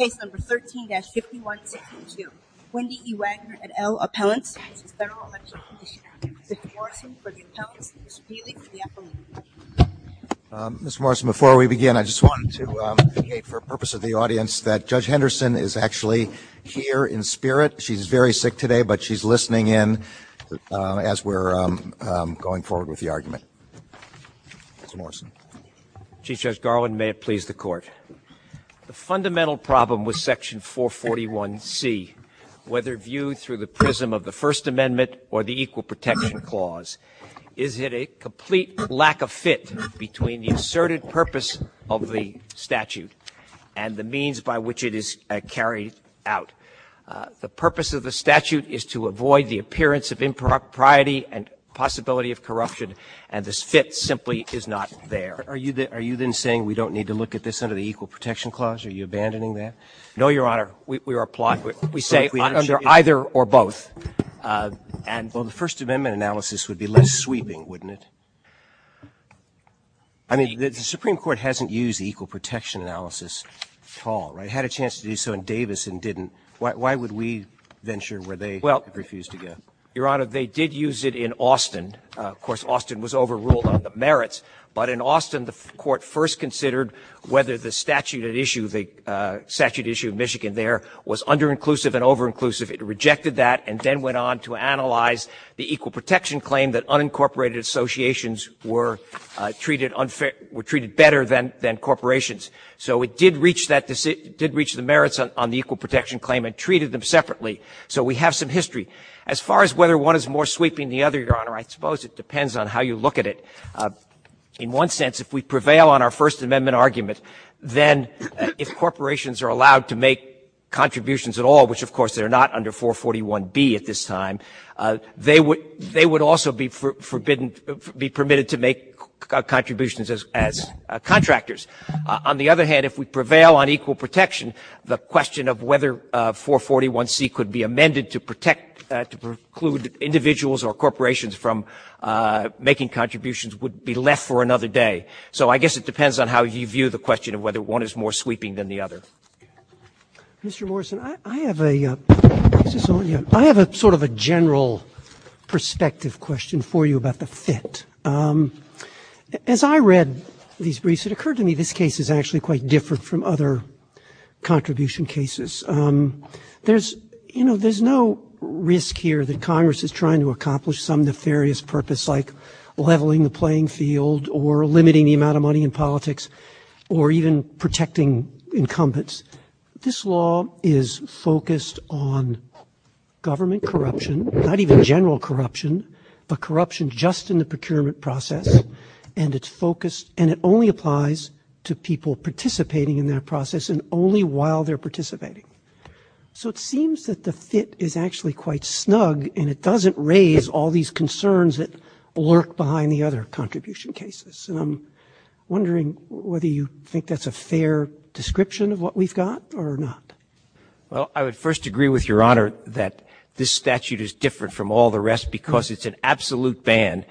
Ms. Morrison, before we begin, I just wanted to indicate for the purpose of the audience that Judge Henderson is actually here in spirit. She's very sick today, but she's listening in as we're going forward with the argument. Ms. Morrison. Chief Judge Garland, may it please the Court. The fundamental problem with Section 441C, whether viewed through the prism of the First Amendment or the Equal Protection Clause, is that a complete lack of fit between the asserted purpose of the statute and the means by which it is carried out. The purpose of the statute is to avoid the appearance of impropriety and possibility of corruption and this fit simply is not there. Are you then saying we don't need to look at this under the Equal Protection Clause? Are you abandoning that? No, Your Honor. We say under either or both. Well, the First Amendment analysis would be less sweeping, wouldn't it? I mean, the Supreme Court hasn't used the Equal Protection Analysis at all, right? It had a chance to do so in Davis and didn't. Why would we venture where they refused to go? Your Honor, they did use it in Austin. Of course, Austin was overruled on the merits. But in Austin, the Court first considered whether the statute at issue, the statute issued in Michigan there, was under-inclusive and over-inclusive. It rejected that and then went on to analyze the Equal Protection Claim that unincorporated associations were treated better than corporations. So it did reach the merits on the Equal Protection Claim and treated them separately. So we have some history. As far as whether one is more sweeping than the other, Your Honor, I suppose it depends on how you look at it. In one sense, if we prevail on our First Amendment argument, then if corporations are allowed to make contributions at all, which of course they're not under 441B at this time, they would also be permitted to make contributions as contractors. On the other hand, if we prevail on equal protection, the question of whether 441C could be amended to protect, to preclude individuals or corporations from making contributions would be left for another day. So I guess it depends on how you view the question of whether one is more sweeping than the other. Mr. Morrison, I have a sort of a general perspective question for you about the fit. As I read these briefs, it occurred to me this case is actually quite different from other contribution cases. There's no risk here that Congress is trying to accomplish some nefarious purpose like leveling the playing field or limiting the amount of money in politics or even protecting incumbents. This law is focused on government corruption, not even general corruption, but corruption just in the procurement process and it's focused and it only applies to people participating in that process and only while they're participating. So it seems that the fit is actually quite snug and it doesn't raise all these concerns that lurk behind the other contribution cases. And I'm wondering whether you think that's a fair description of what we've got or not. Well, I would first agree with Your Honor that this statute is different from all the rest because it's an absolute ban.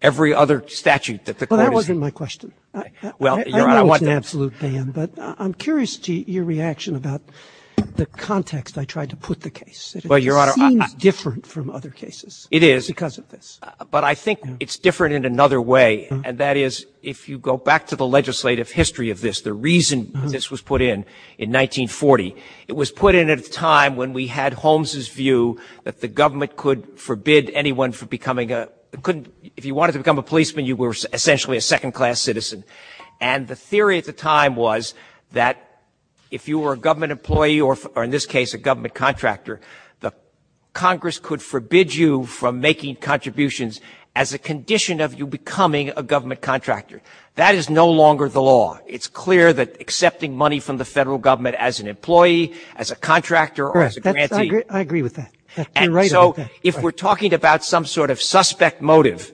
Every other statute that the court has... Well, that wasn't my question. I know it's an absolute ban, but I'm curious to your reaction about the context I tried to put the case. Well, Your Honor... It seems different from other cases... It is... ...because of this. But I think it's different in another way and that is if you go back to the legislative history of this, the reason this was put in in 1940, it was put in at a time when we had Holmes' view that the government could forbid anyone from becoming a... If you wanted to become a policeman, you were essentially a second-class citizen. And the theory at the time was that if you were a government employee or in this case a government contractor, the Congress could forbid you from making contributions as a condition of you becoming a government contractor. That is no longer the law. It's clear that accepting money from the federal government as an employee, as a contractor or as a grantee... I agree with that. And so if we're talking about some sort of suspect motive,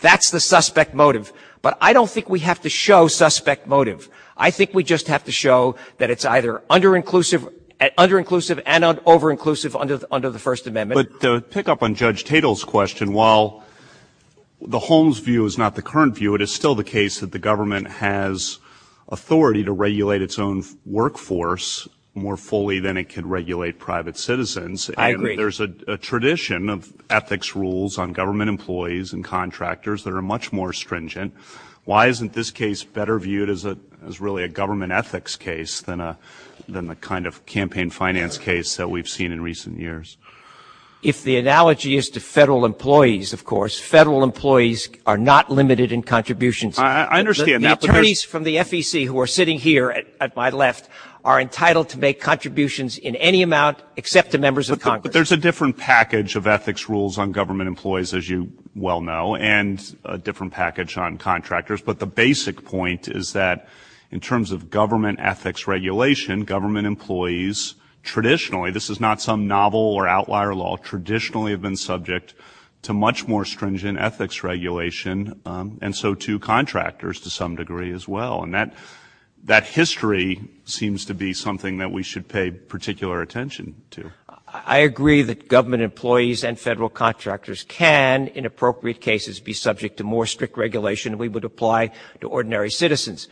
that's the suspect motive. But I don't think we have to show suspect motive. I think we just have to show that it's either under-inclusive and over-inclusive under the First Amendment. But to pick up on Judge Tatel's question, while the Holmes' view is not the current view, it is still the case that the government has authority to regulate its own workforce more fully than it can regulate private citizens. I agree. There's a tradition of ethics rules on government employees and contractors that are much more stringent. Why isn't this case better viewed as really a government ethics case than the kind of campaign finance case that we've seen in recent years? If the analogy is to federal employees, of course, federal employees are not limited in contributions. I understand. The attorneys from the FEC who are sitting here at my left are entitled to make contributions in any amount except to members of Congress. But there's a different package of ethics rules on government employees, as you well know, and a different package on contractors. But the basic point is that in terms of government ethics regulation, government employees traditionally, this is not some novel or outlier law, traditionally have been subject to much more stringent ethics regulation, and so too contractors to some degree as well. And that history seems to be something that we should pay particular attention to. I agree that government employees and federal contractors can, in appropriate cases, be subject to more strict regulation than we would apply to ordinary citizens.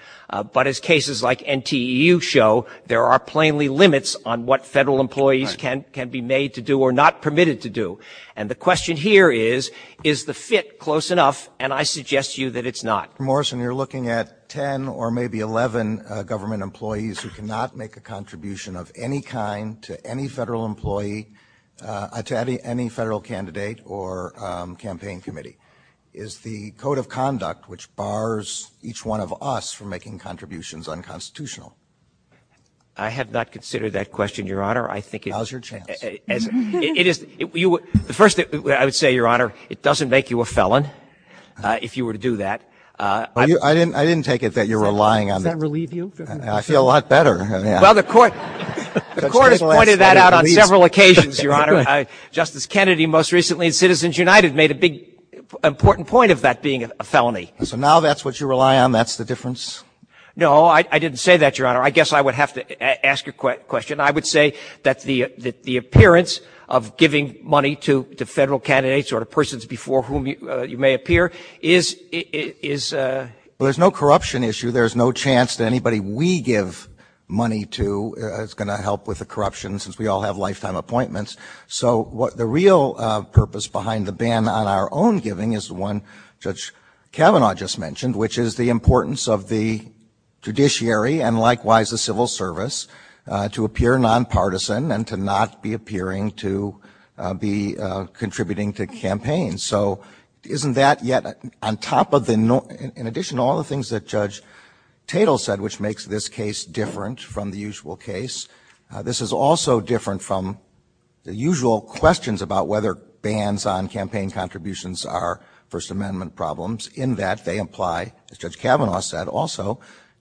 But as cases like NTEU show, there are plainly limits on what federal employees can be made to do or not permitted to do. And the question here is, is the fit close enough? And I suggest to you that it's not. Dr. Morrison, you're looking at 10 or maybe 11 government employees who cannot make a contribution of any kind to any federal employee, to any federal candidate or campaign committee. Is the code of conduct which bars each one of us from making contributions unconstitutional? I have not considered that question, Your Honor. Now's your chance. First, I would say, Your Honor, it doesn't make you a felon if you were to do that. I didn't take it that you're relying on that. Does that relieve you? I feel a lot better. Well, the court has pointed that out on several occasions, Your Honor. Justice Kennedy most recently in Citizens United made a big important point of that being a felony. So now that's what you rely on? That's the difference? No, I didn't say that, Your Honor. I guess I would have to ask a question. I would say that the appearance of giving money to federal candidates or persons before whom you may appear is... Well, there's no corruption issue. There's no chance that anybody we give money to is going to help with the corruption since we all have lifetime appointments. So the real purpose behind the ban on our own giving is one Judge Kavanaugh just mentioned, which is the importance of the judiciary and likewise the civil service to appear nonpartisan and to not be appearing to be contributing to campaigns. So isn't that yet on top of the... In addition to all the things that Judge Tatel said, which makes this case different from the usual case, this is also different from the usual questions about whether bans on campaign contributions are First Amendment problems. In that, they imply, as Judge Kavanaugh said also,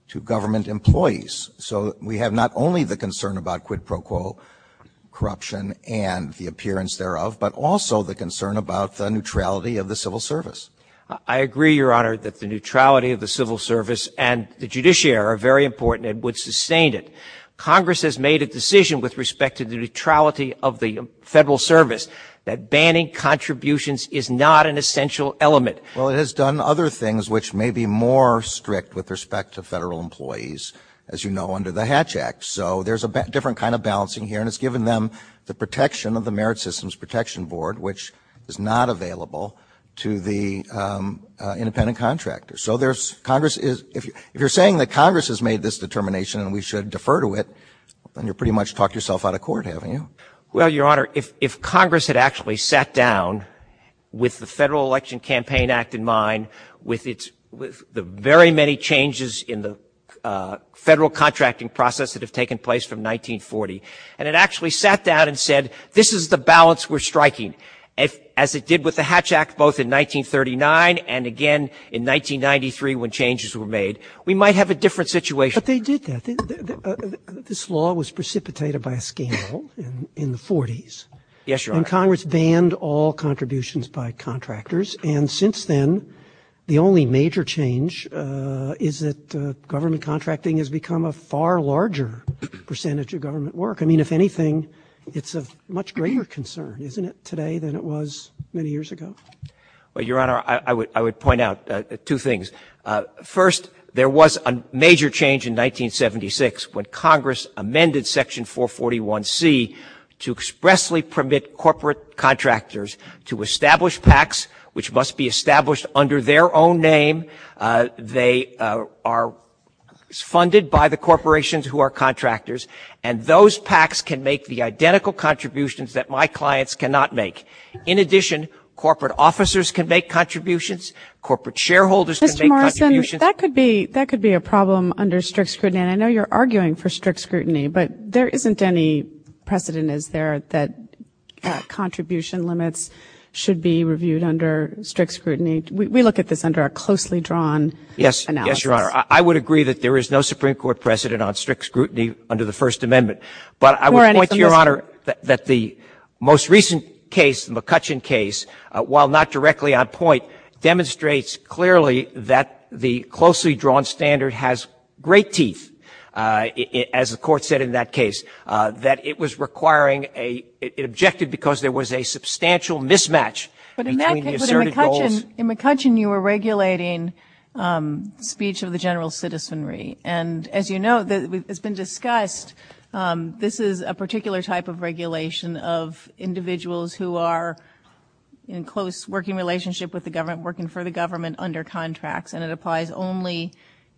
to government employees. So we have not only the concern about quid pro quo corruption and the appearance thereof, but also the concern about the neutrality of the civil service. I agree, Your Honor, that the neutrality of the civil service and the judiciary are very important and would sustain it. Congress has made a decision with respect to the neutrality of the federal service that banning contributions is not an essential element. Well, it has done other things which may be more strict with respect to federal employees, as you know, under the Hatch Act. So there's a different kind of balancing here, and it's given them the protection of the Merit Systems Protection Board, which is not available to the independent contractors. So if you're saying that Congress has made this determination and we should defer to it, then you've pretty much talked yourself out of court, haven't you? Well, Your Honor, if Congress had actually sat down with the Federal Election Campaign Act in mind, with the very many changes in the federal contracting process that have taken place from 1940, and it actually sat down and said, this is the balance we're striking, as it did with the Hatch Act both in 1939 and again in 1993 when changes were made, we might have a different situation. But they did that. This law was precipitated by a scandal in the 40s. Yes, Your Honor. And Congress banned all contributions by contractors, and since then the only major change is that government contracting has become a far larger percentage of government work. I mean, if anything, it's a much greater concern, isn't it, today than it was many years ago? Well, Your Honor, I would point out two things. First, there was a major change in 1976 when Congress amended Section 441C to expressly permit corporate contractors to establish PACs, which must be established under their own name. They are funded by the corporations who are contractors, and those PACs can make the identical contributions that my clients cannot make. In addition, corporate officers can make contributions. Corporate shareholders can make contributions. Mr. Morrison, that could be a problem under strict scrutiny. I know you're arguing for strict scrutiny, but there isn't any precedent, is there, that contribution limits should be reviewed under strict scrutiny? We look at this under a closely drawn analysis. Yes, Your Honor. I would agree that there is no Supreme Court precedent on strict scrutiny under the First Amendment. But I would point, Your Honor, that the most recent case, the McCutcheon case, while not directly on point, demonstrates clearly that the closely drawn standard has great teeth, as the Court said in that case, that it was requiring an objective because there was a substantial mismatch. But in that case, in McCutcheon, you were regulating speech of the general citizenry. And as you know, it's been discussed, this is a particular type of regulation of individuals who are in close working relationship with the government, working for the government under contracts, and it applies only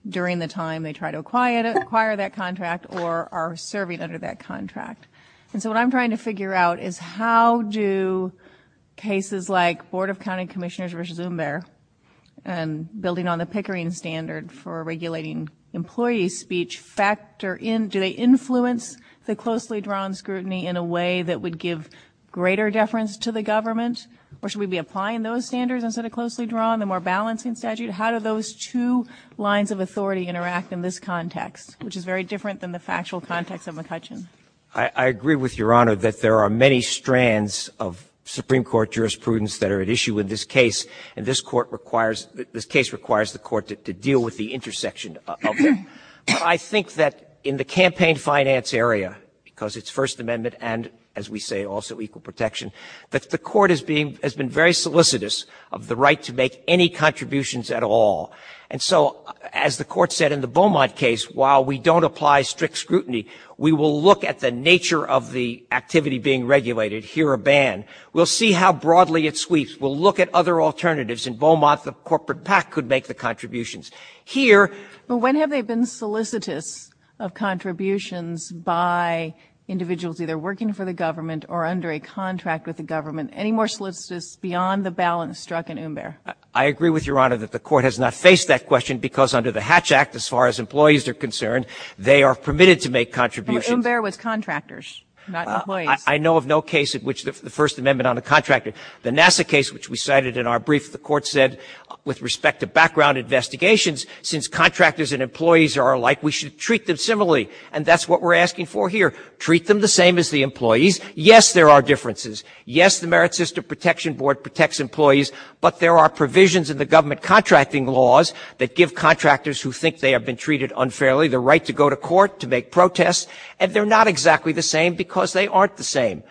during the time they try to acquire that contract or are serving under that contract. And so what I'm trying to figure out is how do cases like Board of County Commissioners v. Do they influence the closely drawn scrutiny in a way that would give greater deference to the government? Or should we be applying those standards instead of closely drawn, the more balancing statute? How do those two lines of authority interact in this context, which is very different than the factual context of McCutcheon? I agree with Your Honor that there are many strands of Supreme Court jurisprudence that are at issue in this case. And this case requires the court to deal with the intersection of them. But I think that in the campaign finance area, because it's First Amendment and, as we say, also equal protection, that the court has been very solicitous of the right to make any contributions at all. And so, as the court said in the Beaumont case, while we don't apply strict scrutiny, we will look at the nature of the activity being regulated, hear a ban. We'll see how broadly it sweeps. We'll look at other alternatives. In Beaumont, the corporate PAC could make the contributions. Here... But when have they been solicitous of contributions by individuals either working for the government or under a contract with the government? Any more solicitous beyond the balance struck in Umber? I agree with Your Honor that the court has not faced that question, because under the Hatch Act, as far as employees are concerned, they are permitted to make contributions. And Umber was contractors, not employees. I know of no case in which the First Amendment on a contractor. The NASA case, which we cited in our brief, the court said, with respect to background investigations, since contractors and employees are alike, we should treat them similarly. And that's what we're asking for here. Treat them the same as the employees. Yes, there are differences. Yes, the Merit System Protection Board protects employees, but there are provisions in the government contracting laws that give contractors who think they have been treated unfairly the right to go to court to make protests. And they're not exactly the same, because they aren't the same.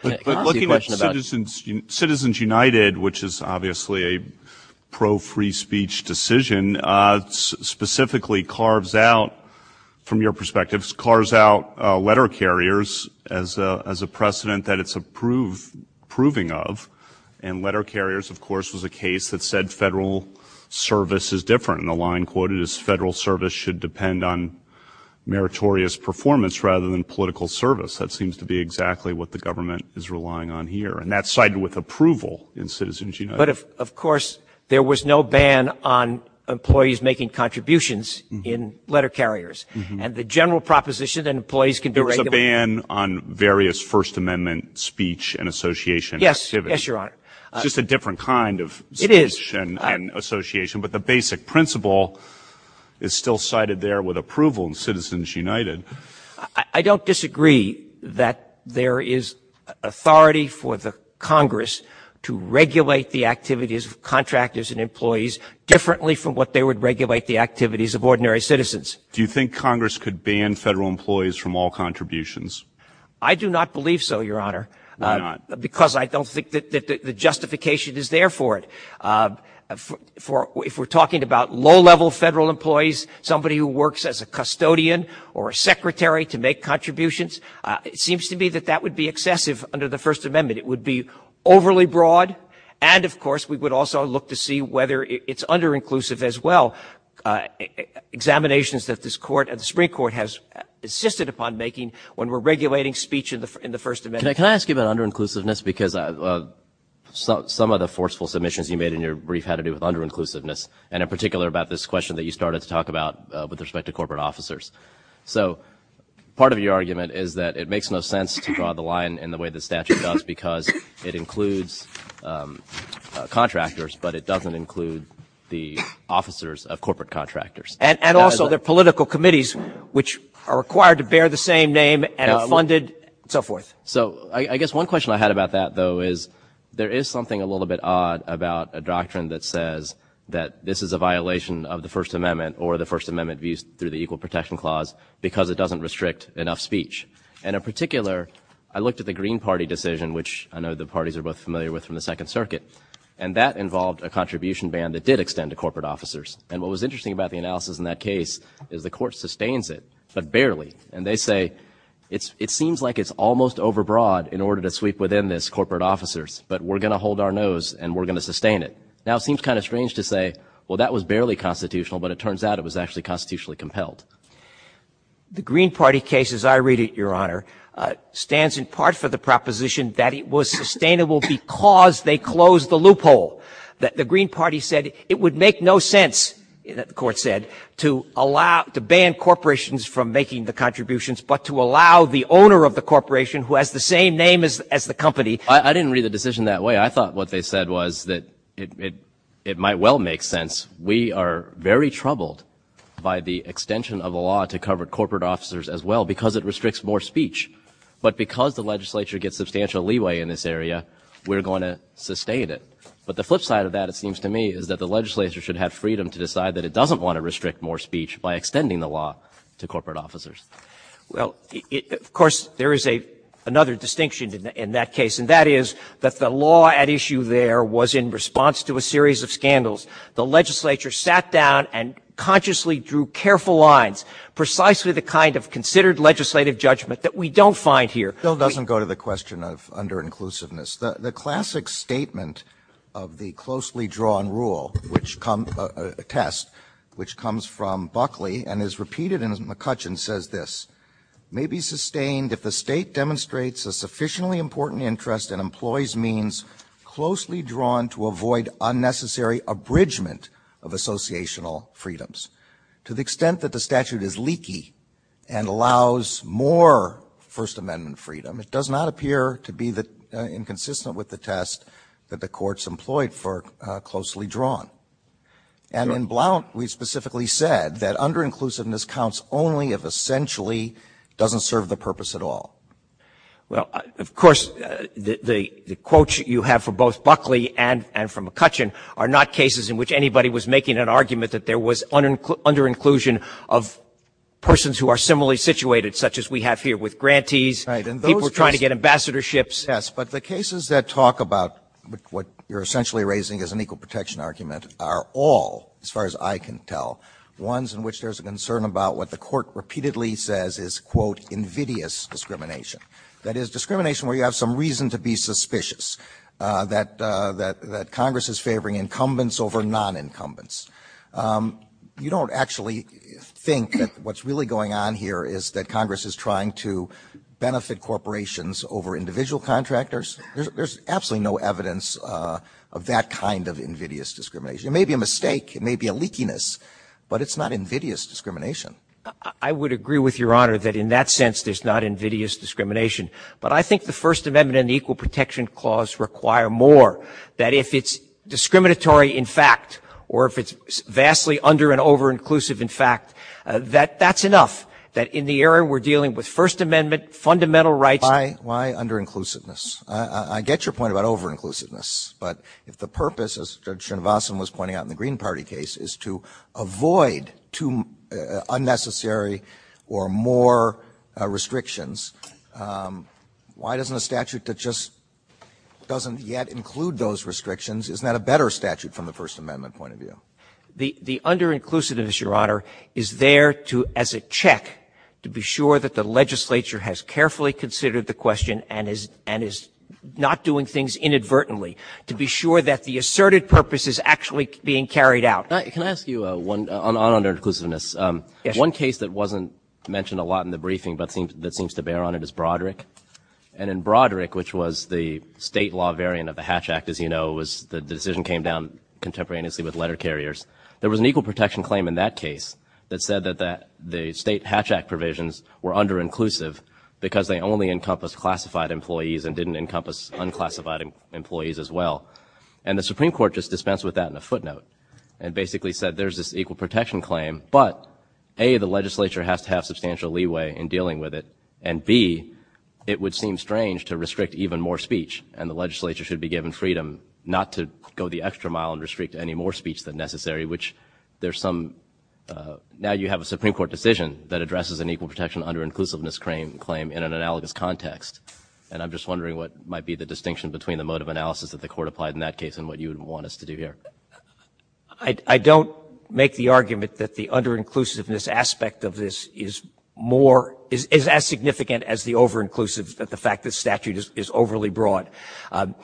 Citizens United, which is obviously a pro-free speech decision, specifically carves out, from your perspective, carves out letter carriers as a precedent that it's approving of. And letter carriers, of course, was a case that said federal service is different. And the line quoted is, federal service should depend on meritorious performance rather than political service. That seems to be exactly what the government is relying on here. And that's cited with approval in Citizens United. But, of course, there was no ban on employees making contributions in letter carriers. And the general proposition that employees can do regular... There was a ban on various First Amendment speech and association activities. Yes, Your Honor. It's just a different kind of speech and association. But the basic principle is still cited there with approval in Citizens United. I don't disagree that there is authority for the Congress to regulate the activities of contractors and employees differently from what they would regulate the activities of ordinary citizens. Do you think Congress could ban federal employees from all contributions? I do not believe so, Your Honor. Why not? Because I don't think that the justification is there for it. If we're talking about low-level federal employees, somebody who works as a custodian or a secretary to make contributions, it seems to me that that would be excessive under the First Amendment. It would be overly broad. And, of course, we would also look to see whether it's under-inclusive as well. Examinations that the Supreme Court has insisted upon making when we're regulating speech in the First Amendment... Can I ask you about under-inclusiveness? Because some of the forceful submissions you made in your brief had to do with under-inclusiveness, and in particular about this question that you started to talk about with respect to corporate officers. So part of your argument is that it makes no sense to draw the line in the way the statute does because it includes contractors, but it doesn't include the officers of corporate contractors. And also the political committees, which are required to bear the same name and are funded, and so forth. So I guess one question I had about that, though, is there is something a little bit odd about a doctrine that says that this is a violation of the First Amendment or the First Amendment views through the Equal Protection Clause because it doesn't restrict enough speech. And, in particular, I looked at the Green Party decision, which I know the parties are both familiar with from the Second Circuit, and that involved a contribution ban that did extend to corporate officers. And what was interesting about the analysis in that case is the court sustains it, but barely. And they say, it seems like it's almost overbroad in order to sweep within this corporate officers, but we're going to hold our nose and we're going to sustain it. Now it seems kind of strange to say, well, that was barely constitutional, but it turns out it was actually constitutionally compelled. The Green Party case, as I read it, Your Honor, stands in part for the proposition that it was sustainable because they closed the loophole. The Green Party said it would make no sense, the court said, to ban corporations from making the contributions but to allow the owner of the corporation, who has the same name as the company... I didn't read the decision that way. I thought what they said was that it might well make sense. We are very troubled by the extension of the law to cover corporate officers as well because it restricts more speech. But because the legislature gets substantial leeway in this area, we're going to sustain it. But the flip side of that, it seems to me, is that the legislature should have freedom to decide that it doesn't want to restrict more speech by extending the law to corporate officers. Well, of course, there is another distinction in that case, and that is that the law at issue there was in response to a series of scandals. The legislature sat down and consciously drew careful lines, precisely the kind of considered legislative judgment that we don't find here. Bill doesn't go to the question of under-inclusiveness. The classic statement of the closely drawn rule, a test, which comes from Buckley and is repeated in McCutcheon, says this, may be sustained if the state demonstrates a sufficiently important interest in employees' means closely drawn to avoid unnecessary abridgment of associational freedoms. To the extent that the statute is leaky and allows more First Amendment freedom, it does not appear to be inconsistent with the test that the courts employed for closely drawn. And in Blount, we specifically said that under-inclusiveness counts only if essentially it doesn't serve the purpose at all. Well, of course, the quote you have for both Buckley and from McCutcheon are not cases in which anybody was making an argument that there was under-inclusion of persons who are similarly situated, such as we have here with grantees. People trying to get ambassadorships. Yes, but the cases that talk about what you're essentially raising as an equal protection argument are all, as far as I can tell, ones in which there's a concern about what the court repeatedly says is, quote, invidious discrimination. That is, discrimination where you have some reason to be suspicious, that Congress is favoring incumbents over non-incumbents. You don't actually think that what's really going on here is that Congress is trying to benefit corporations over individual contractors. There's absolutely no evidence of that kind of invidious discrimination. It may be a mistake. It may be a leakiness. But it's not invidious discrimination. I would agree with Your Honor that in that sense there's not invidious discrimination. But I think the First Amendment and the Equal Protection Clause require more that if it's discriminatory in fact or if it's vastly under- and over-inclusive in fact, that that's enough. That in the area we're dealing with First Amendment, fundamental rights... Why under-inclusiveness? I get your point about over-inclusiveness. But if the purpose, as Chen Vossen was pointing out in the Green Party case, is to avoid unnecessary or more restrictions, why doesn't a statute that just doesn't yet include those restrictions, isn't that a better statute from the First Amendment point of view? The under-inclusiveness, Your Honor, is there as a check to be sure that the legislature has carefully considered the question and is not doing things inadvertently to be sure that the asserted purpose is actually being carried out. Can I ask you on under-inclusiveness? Yes. One case that wasn't mentioned a lot in the briefing but seems to bear on it is Broderick. And in Broderick, which was the state law variant of the Hatch Act, as you know, the decision came down contemporaneously with letter carriers. There was an equal protection claim in that case that said that the state Hatch Act provisions were under-inclusive because they only encompass classified employees and didn't encompass unclassified employees as well. And the Supreme Court just dispensed with that in a footnote and basically said there's this equal protection claim, but A, the legislature has to have substantial leeway in dealing with it, and B, it would seem strange to restrict even more speech and the legislature should be given freedom not to go the extra mile and restrict any more speech than necessary, which now you have a Supreme Court decision that addresses an equal protection under-inclusiveness claim in an analogous context. And I'm just wondering what might be the distinction between the mode of analysis that the Court applied in that case and what you would want us to do here. I don't make the argument that the under-inclusiveness aspect of this is as significant as the over-inclusiveness that the fact that statute is overly broad. I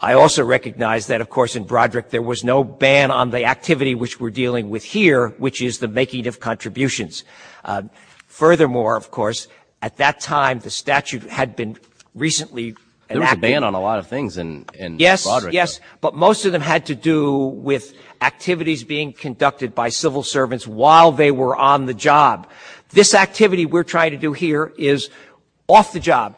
also recognize that, of course, in Broderick there was no ban on the activity which we're dealing with here, which is the making of contributions. Furthermore, of course, at that time the statute had been recently enacted. There was a ban on a lot of things in Broderick. Yes, yes, but most of them had to do with activities being conducted by civil servants while they were on the job. This activity we're trying to do here is off the job.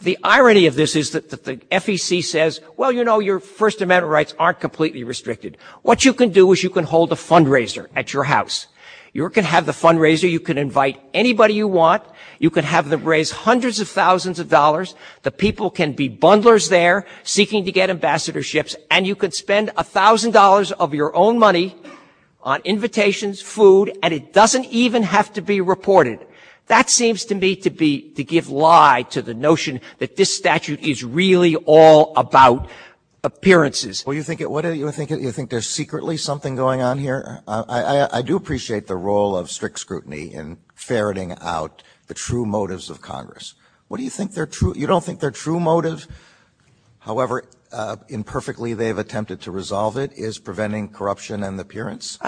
The irony of this is that the FEC says, well, you know, your First Amendment rights aren't completely restricted. What you can do is you can hold a fundraiser at your house. You can have the fundraiser. You can invite anybody you want. You can have them raise hundreds of thousands of dollars. The people can be bundlers there seeking to get ambassadorships, and you can spend $1,000 of your own money on invitations, food, and it doesn't even have to be reported. That seems to me to give lie to the notion that this statute is really all about appearances. Do you think there's secretly something going on here? I do appreciate the role of strict scrutiny in ferreting out the true motives of Congress. You don't think their true motive, however imperfectly they've attempted to resolve it, is preventing corruption and appearance?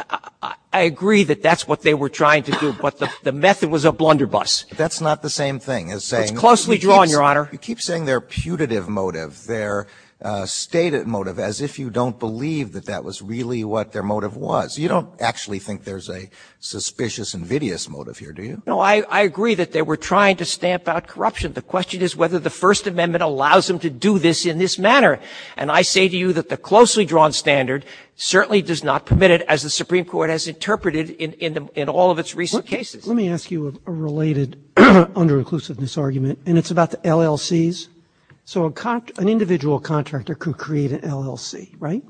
I agree that that's what they were trying to do, but the method was a blunderbuss. That's not the same thing as saying... Closely drawn, Your Honor. You keep saying their putative motive, their stated motive, as if you don't believe that that was really what their motive was. You don't actually think there's a suspicious invidious motive here, do you? No, I agree that they were trying to stamp out corruption. The question is whether the First Amendment allows them to do this in this manner, and I say to you that the closely drawn standard certainly does not permit it, as the Supreme Court has interpreted in all of its recent cases. Let me ask you a related under-inclusiveness argument, and it's about the LLCs. An individual contractor could create an LLC, right?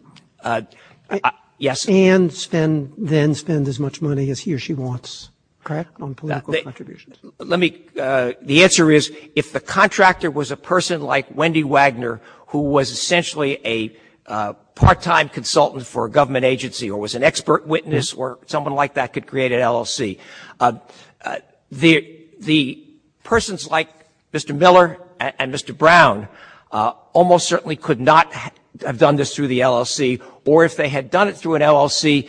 Yes. And then spend as much money as he or she wants, correct, on political contributions? The answer is, if the contractor was a person like Wendy Wagner, who was essentially a part-time consultant for a government agency, or was an expert witness, someone like that could create an LLC. The persons like Mr. Miller and Mr. Brown almost certainly could not have done this through the LLC, or if they had done it through an LLC,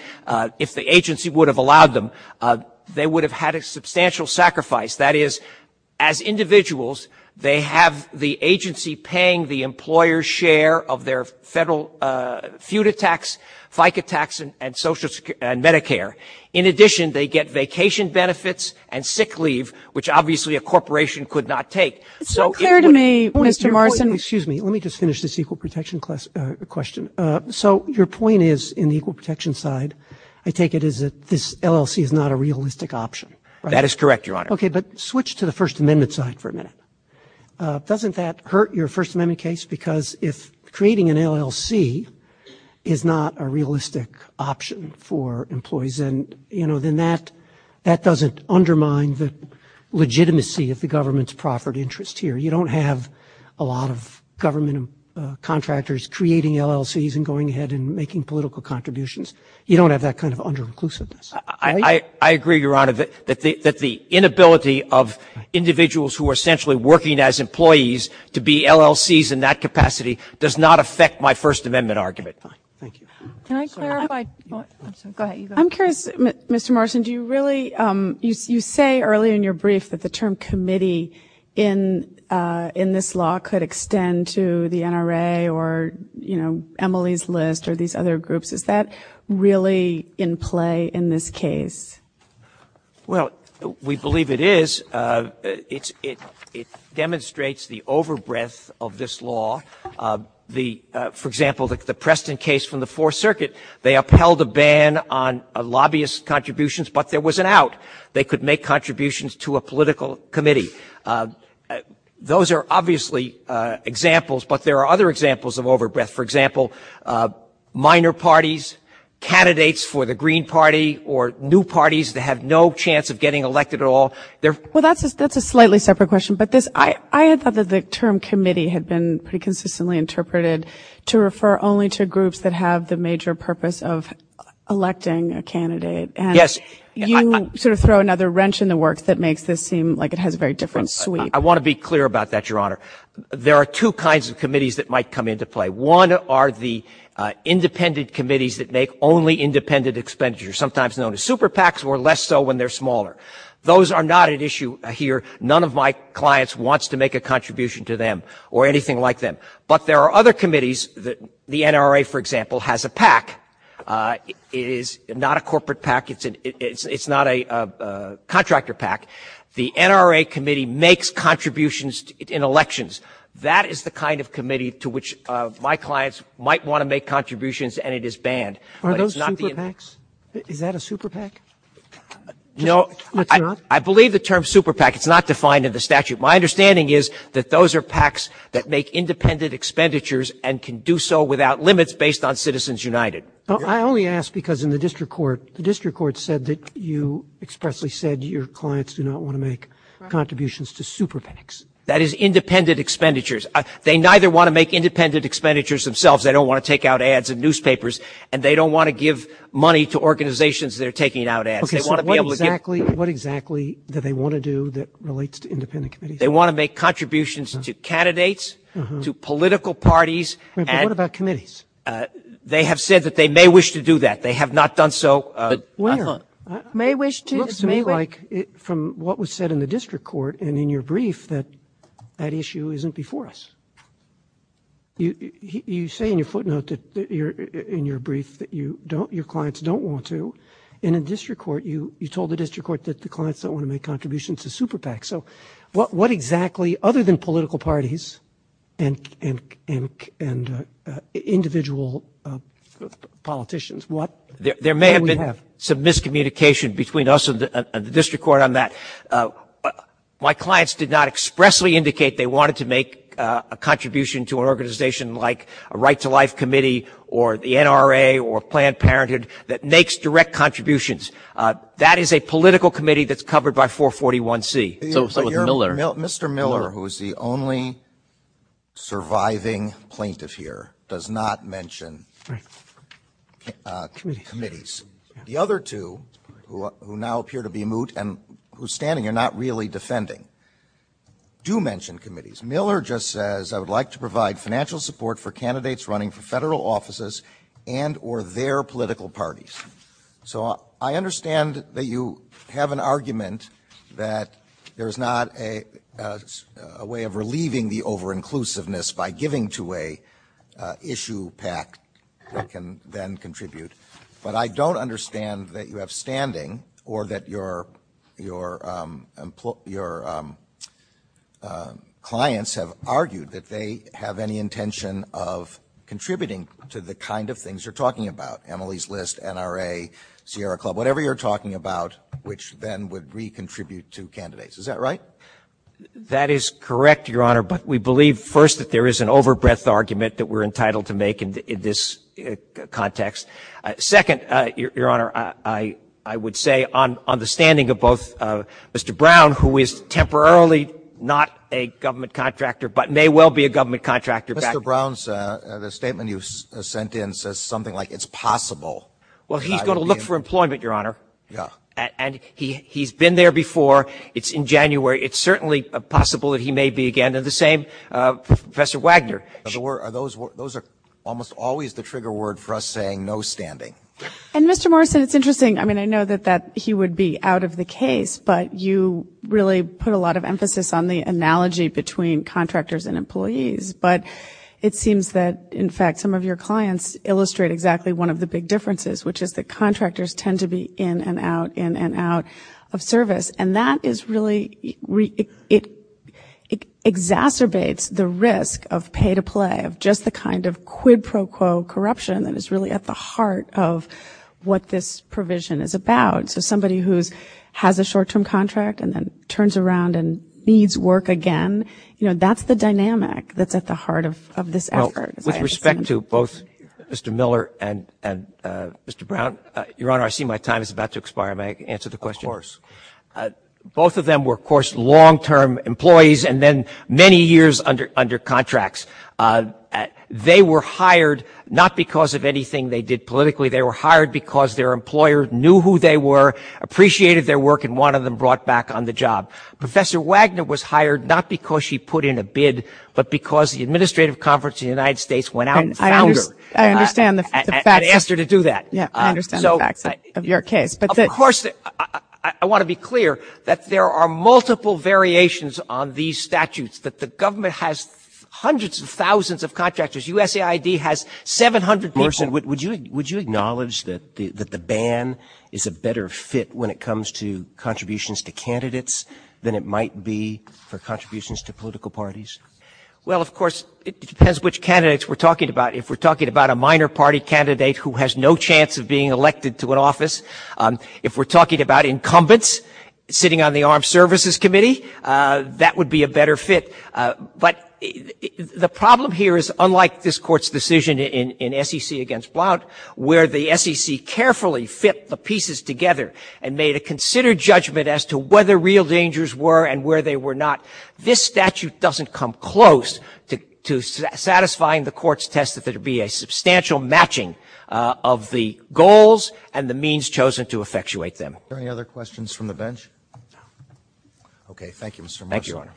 if the agency would have allowed them, they would have had a substantial sacrifice. That is, as individuals, they have the agency paying the employer's share of their federal feud attacks, FICA tax, and Medicare. In addition, they get vacation benefits and sick leave, which obviously a corporation could not take. So clear to me, Mr. Martin, excuse me, let me just finish this equal protection question. So your point is, in the equal protection side, I take it that this LLC is not a realistic option. That is correct, Your Honor. Okay, but switch to the First Amendment side for a minute. Doesn't that hurt your First Amendment case? Because if creating an LLC is not a realistic option for employees, then that doesn't undermine the legitimacy of the government's proffered interest here. You don't have a lot of government contractors creating LLCs and going ahead and making political contributions. You don't have that kind of under-inclusiveness. I agree, Your Honor, that the inability of individuals who are essentially working as employees to be LLCs in that capacity does not affect my First Amendment argument. Thank you. Can I clarify? Go ahead. I'm curious, Mr. Martin, do you really, you say early in your brief that the term committee in this law could extend to the NRA or, you know, EMILY's List or these other groups. Is that really in play in this case? Well, we believe it is. It demonstrates the over-breadth of this law For example, the Preston case from the Fourth Circuit, they upheld a ban on lobbyist contributions, but there was an out. They could make contributions to a political committee. Those are obviously examples, but there are other examples of over-breadth. For example, minor parties, candidates for the Green Party or new parties that have no chance of getting elected at all. Well, that's a slightly separate question. I thought that the term committee had been pretty consistently interpreted to refer only to groups that have the major purpose of electing a candidate. Yes. You sort of throw another wrench in the work that makes this seem like it has a very different suite. I want to be clear about that, Your Honor. There are two kinds of committees that might come into play. One are the independent committees that make only independent expenditures, sometimes known as super PACs or less so when they're smaller. Those are not at issue here. None of my clients wants to make a contribution to them or anything like that, but there are other committees. The NRA, for example, has a PAC. It is not a corporate PAC. It's not a contractor PAC. The NRA committee makes contributions in elections. That is the kind of committee to which my clients might want to make contributions and it is banned. Are those super PACs? Is that a super PAC? No. I believe the term super PAC. It's not defined in the statute. My understanding is that those are PACs that make independent expenditures and can do so without limits based on Citizens United. I only ask because in the district court, the district court said that you expressly said your clients do not want to make contributions to super PACs. That is independent expenditures. They neither want to make independent expenditures themselves. They don't want to take out ads in newspapers and they don't want to give money to organizations that are taking out ads. What exactly do they want to do that relates to independent committees? They want to make contributions to candidates, to political parties. What about committees? They have said that they may wish to do that. They have not done so. May wish to? It looks like from what was said in the district court and in your brief that that issue isn't before us. You say in your footnote in your brief that your clients don't want to. In a district court, you told the district court that the clients don't want to make contributions to super PACs. What exactly, other than political parties and individual politicians, what can we have? There may have been some miscommunication between us and the district court on that. My clients did not expressly indicate they wanted to make a contribution to an organization like a Right to Life Committee or the NRA or Planned Parenthood that makes direct contributions. That is a political committee that's covered by 441C. Mr. Miller, who is the only surviving plaintiff here, does not mention committees. The other two, who now appear to be moot and who are standing are not really defending, do mention committees. Miller just says, I would like to provide financial support for candidates running for federal offices and or their political parties. So I understand that you have an argument that there's not a way of relieving the over-inclusiveness by giving to an issue PAC that can then contribute. But I don't understand that you have standing or that your clients have argued that they have any intention of contributing to the kind of things you're talking about, EMILY's List, NRA, Sierra Club, whatever you're talking about, which then would re-contribute to candidates. Is that right? That is correct, Your Honor, but we believe first that there is an over-breadth argument that we're entitled to make in this context. Second, Your Honor, I would say on the standing of both Mr. Brown, who is temporarily not a government contractor but may well be a government contractor. Mr. Brown's statement you sent in says something like it's possible. Well, he's going to look for employment, Your Honor. Yeah. And he's been there before. It's in January. It's certainly possible that he may be again. And the same for Professor Wagner. Those are almost always the trigger word for us saying no standing. And Mr. Morrison, it's interesting. I mean, I know that he would be out of the case, but you really put a lot of emphasis on the analogy between contractors and employees. But it seems that, in fact, some of your clients illustrate exactly one of the big differences, which is that contractors tend to be in and out, in and out of service. And that is really... it exacerbates the risk of pay-to-play, of just the kind of quid pro quo corruption that is really at the heart of what this provision is about. So somebody who has a short-term contract and then turns around and needs work again, that's the dynamic that's at the heart of this effort. With respect to both Mr. Miller and Mr. Brown, Your Honor, I see my time is about to expire. May I answer the question? Of course. Both of them were, of course, long-term employees and then many years under contracts. They were hired not because of anything they did politically. They were hired because their employer knew who they were, appreciated their work, and wanted them brought back on the job. Professor Wagner was hired not because she put in a bid, but because the administrative conference in the United States went out and found her. I understand the fact. And asked her to do that. Yeah, I understand the fact of your case. Of course, I want to be clear that there are multiple variations on these statutes, but the government has hundreds of thousands of contractors. USAID has 700 people. Morrison, would you acknowledge that the ban is a better fit when it comes to contributions to candidates than it might be for contributions to political parties? Well, of course, it depends which candidates we're talking about. If we're talking about a minor party candidate who has no chance of being elected to an office, if we're talking about incumbents sitting on the Armed Services Committee, that would be a better fit. But the problem here is, unlike this Court's decision in SEC against Blount, where the SEC carefully fit the pieces together and made a considered judgment as to whether real dangers were and where they were not, this statute doesn't come close to satisfying the Court's test that there would be a substantial matching of the goals and the means chosen to effectuate them. Are there any other questions from the bench? Okay, thank you, Mr. Morrison. Thank you, Your Honor.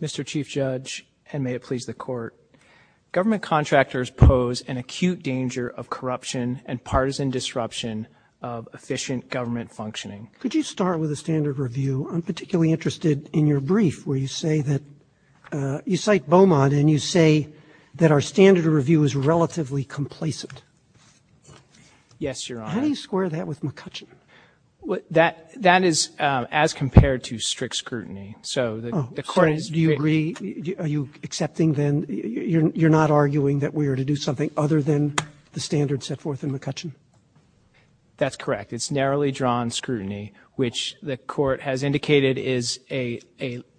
Mr. Chief Judge, and may it please the Court, government contractors pose an acute danger of corruption and partisan disruption of efficient government functioning. Could you start with a standard review? I'm particularly interested in your brief where you say that you cite Beaumont, and you say that our standard review is relatively complacent. Yes, Your Honor. How do you square that with McCutcheon? That is as compared to strict scrutiny. Do you agree? Are you accepting then, you're not arguing that we were to do something other than the standard set forth in McCutcheon? That's correct. It's narrowly drawn scrutiny, which the Court has indicated is a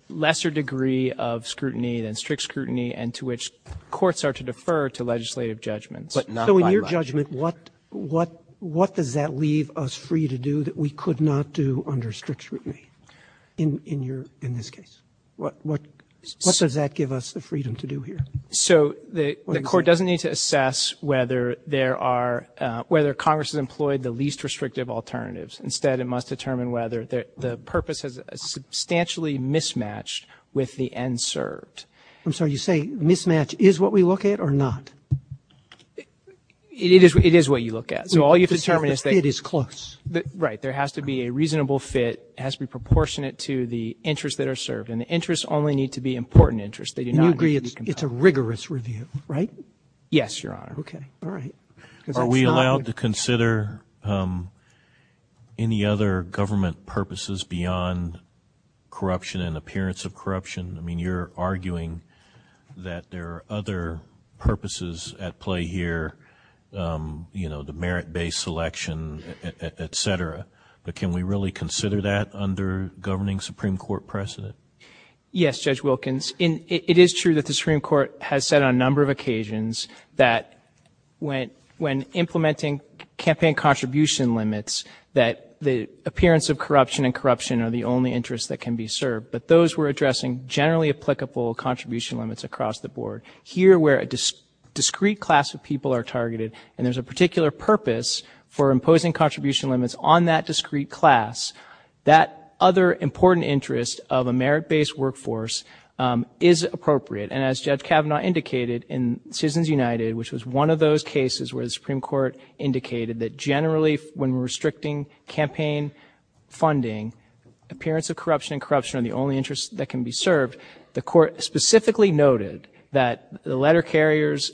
lesser degree of scrutiny than strict scrutiny, and to which courts are to defer to legislative judgments. So in your judgment, what does that leave us free to do that we could not do under strict scrutiny in this case? What does that give us the freedom to do here? So the Court doesn't need to assess whether there are, whether Congress has employed the least restrictive alternatives. Instead, it must determine whether the purpose is substantially mismatched with the end served. I'm sorry, you're saying mismatch is what we look at or not? It is what you look at. So all you determine is that it is close. Right, there has to be a reasonable fit. It has to be proportionate to the interests that are served, and the interests only need to be important interests. Do you agree it's a rigorous review, right? Yes, Your Honor. Okay, all right. Are we allowed to consider any other government purposes beyond corruption and appearance of corruption? I mean, you're arguing that there are other purposes at play here, you know, the merit-based selection, et cetera. But can we really consider that under governing Supreme Court precedent? Yes, Judge Wilkins. It is true that the Supreme Court has said on a number of occasions that when implementing campaign contribution limits, that the appearance of corruption and corruption are the only interests that can be served. But those we're addressing generally applicable contribution limits across the board. Here where a discrete class of people are targeted and there's a particular purpose for imposing contribution limits on that discrete class, that other important interest of a merit-based workforce is appropriate. And as Judge Kavanaugh indicated in Citizens United, which was one of those cases where the Supreme Court indicated that generally when restricting campaign funding, appearance of corruption and corruption are the only interests that can be served. The court specifically noted that the letter carriers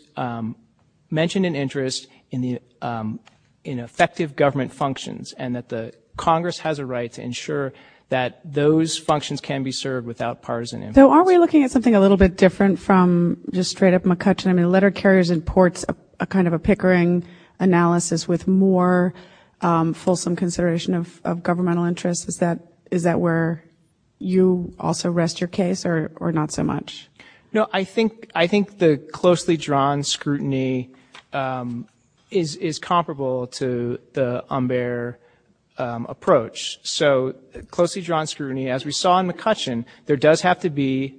mentioned an interest in effective government functions and that the Congress has a right to ensure that those functions can be served without partisan interest. So are we looking at something a little bit different from just straight up McCutcheon? I mean, letter carriers and ports are kind of a pickering analysis with more fulsome consideration of governmental interests. Is that where you also rest your case or not so much? No, I think the closely drawn scrutiny is comparable to the unbear approach. So closely drawn scrutiny, as we saw in McCutcheon, there does have to be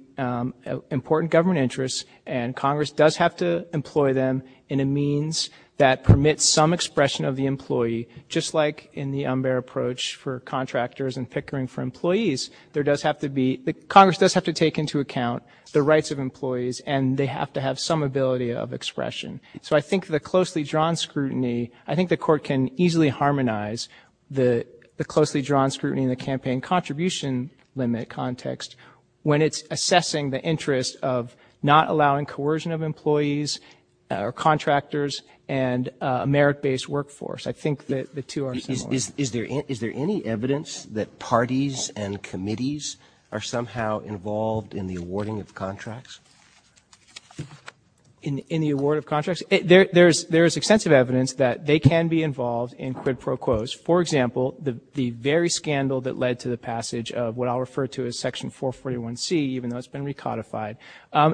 important government interests and Congress does have to employ them in a means that permits some expression of the employee, just like in the unbear approach for contractors and pickering for employees. Congress does have to take into account the rights of employees and they have to have some ability of expression. So I think the closely drawn scrutiny, I think the court can easily harmonize the closely drawn scrutiny in the campaign contribution limit context when it's assessing the interest of not allowing coercion of employees or contractors and a merit-based workforce. I think the two are similar. Is there any evidence that parties and committees are somehow involved in the awarding of contracts? In the award of contracts? There is extensive evidence that they can be involved in quid pro quos. For example, the very scandal that led to the passage of what I'll refer to as Section 441C, even though it's been recodified,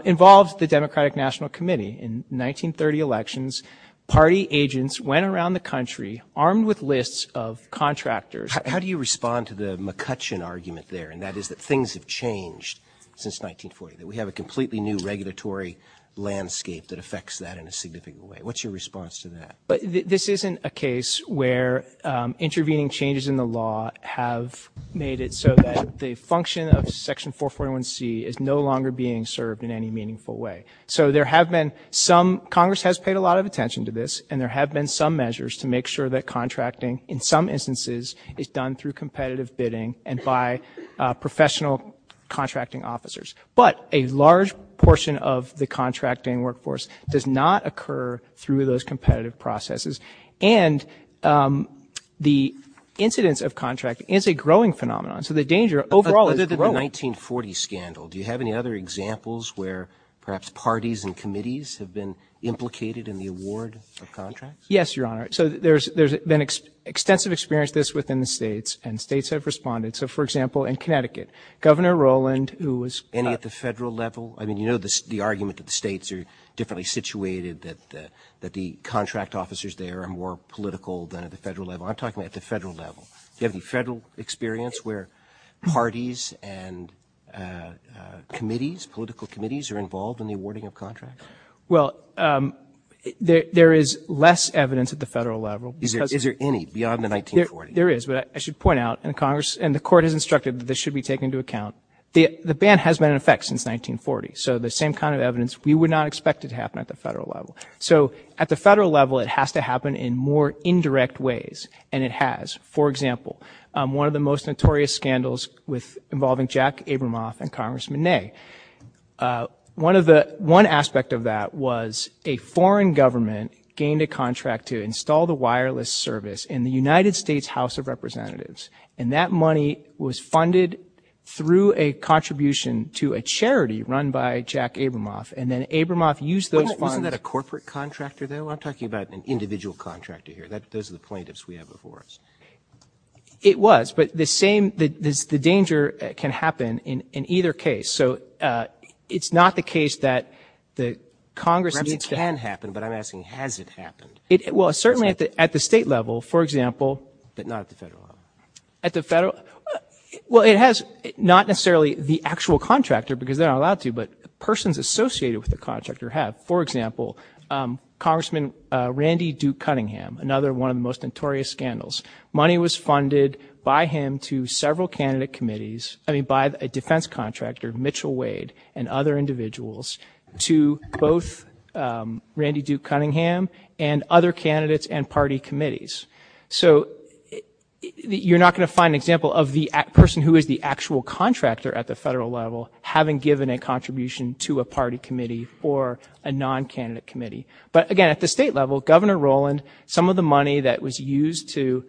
involved the Democratic National Committee. In 1930 elections, party agents went around the country armed with lists of contractors. How do you respond to the McCutcheon argument there, and that is that things have changed since 1940, that we have a completely new regulatory landscape that affects that in a significant way? What's your response to that? This isn't a case where intervening changes in the law have made it so that the function of Section 441C is no longer being served in any meaningful way. Congress has paid a lot of attention to this, and there have been some measures to make sure that contracting, in some instances, is done through competitive bidding and by professional contracting officers. But a large portion of the contracting workforce does not occur through those competitive processes, and the incidence of contracting is a growing phenomenon. So the danger overall is growing. In the 1940 scandal, do you have any other examples where perhaps parties and committees have been implicated in the award of contracts? Yes, Your Honor. So there's been extensive experience of this within the states, and states have responded. So, for example, in Connecticut, Governor Rowland, who was- And at the federal level? I mean, you know the argument that the states are differently situated, that the contract officers there are more political than at the federal level. I'm talking at the federal level. Do you have any federal experience where parties and committees, political committees are involved in the awarding of contracts? Well, there is less evidence at the federal level. Is there any beyond the 1940s? There is, but I should point out in Congress, and the Court has instructed that this should be taken into account, the ban has been in effect since 1940, so the same kind of evidence we would not expect it to happen at the federal level. So at the federal level, it has to happen in more indirect ways, and it has. For example, one of the most notorious scandals involving Jack Abramoff and Congressman Ney. One aspect of that was a foreign government gained a contract to install the wireless service in the United States House of Representatives, and that money was funded through a contribution to a charity run by Jack Abramoff, and then Abramoff used those funds- Wasn't that a corporate contractor, though? I'm talking about an individual contractor here. Those are the plaintiffs we have before us. It was, but the danger can happen in either case. So it's not the case that the Congress- It can happen, but I'm asking, has it happened? Well, certainly at the state level, for example- But not at the federal level. At the federal- Well, it has not necessarily the actual contractor, because they're not allowed to, but persons associated with the contractor have. For example, Congressman Randy Duke Cunningham, another one of the most notorious scandals. Money was funded by him to several candidate committees, by a defense contractor, Mitchell Wade, and other individuals, to both Randy Duke Cunningham and other candidates and party committees. So you're not going to find an example of the person who is the actual contractor at the federal level having given a contribution to a party committee or a non-candidate committee. But again, at the state level, Governor Rowland, some of the money that was used to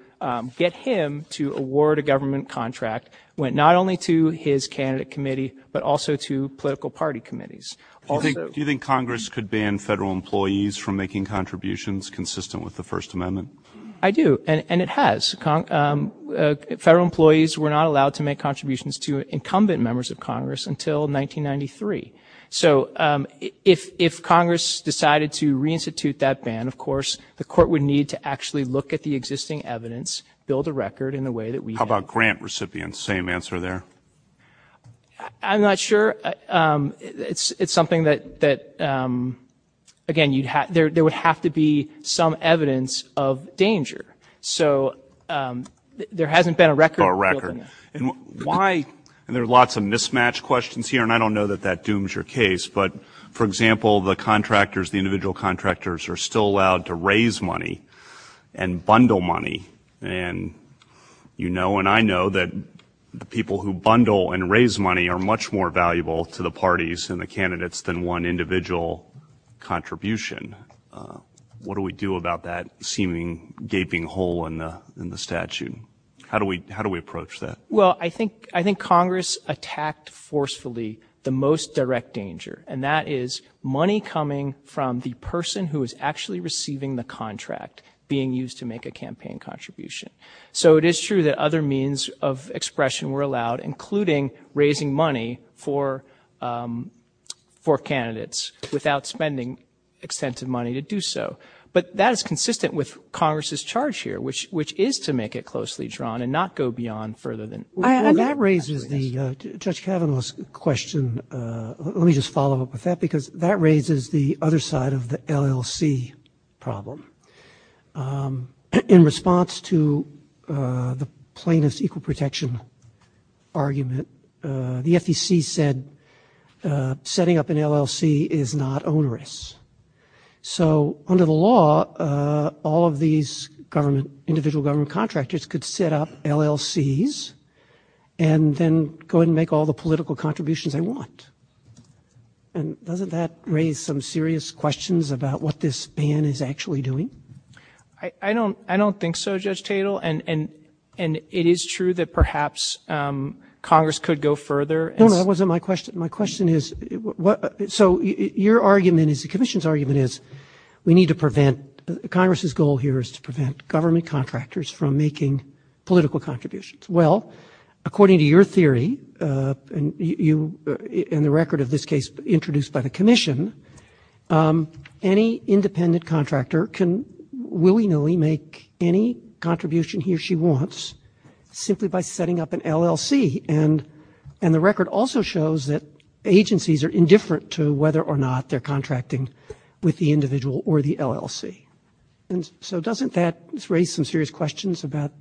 get him to award a government contract went not only to his candidate committee, but also to political party committees. Do you think Congress could ban federal employees from making contributions consistent with the First Amendment? I do, and it has. Federal employees were not allowed to make contributions to incumbent members of Congress until 1993. So if Congress decided to reinstitute that ban, of course, the court would need to actually look at the existing evidence, build a record in the way that we- How about grant recipients? Same answer there. I'm not sure. It's something that, again, there would have to be some evidence of danger. So there hasn't been a record- A record. Why- And there are lots of mismatched questions here, and I don't know that that dooms your case. But, for example, the contractors, the individual contractors, are still allowed to raise money and bundle money. And you know and I know that the people who bundle and raise money are much more valuable to the parties and the candidates than one individual contribution. What do we do about that seeming gaping hole in the statute? How do we approach that? Well, I think Congress attacked forcefully the most direct danger, and that is money coming from the person who is actually receiving the contract being used to make a campaign contribution. So it is true that other means of expression were allowed, including raising money for candidates without spending extensive money to do so. But that is consistent with Congress's charge here, which is to make it closely drawn and not go beyond further than- And that raises Judge Kavanaugh's question. Let me just follow up with that because that raises the other side of the LLC problem. In response to the plaintiff's equal protection argument, the FTC said setting up an LLC is not onerous. So under the law, all of these individual government contractors could set up LLCs and then go and make all the political contributions they want. And doesn't that raise some serious questions about what this ban is actually doing? I don't think so, Judge Tatel, and it is true that perhaps Congress could go further. No, no, that wasn't my question. My question is, so your argument is, the commission's argument is, we need to prevent-Congress's goal here is to prevent government contractors from making political contributions. Well, according to your theory and the record of this case introduced by the commission, any independent contractor can willy-nilly make any contribution he or she wants simply by setting up an LLC. And the record also shows that agencies are indifferent to whether or not they're contracting with the individual or the LLC. And so doesn't that raise some serious questions about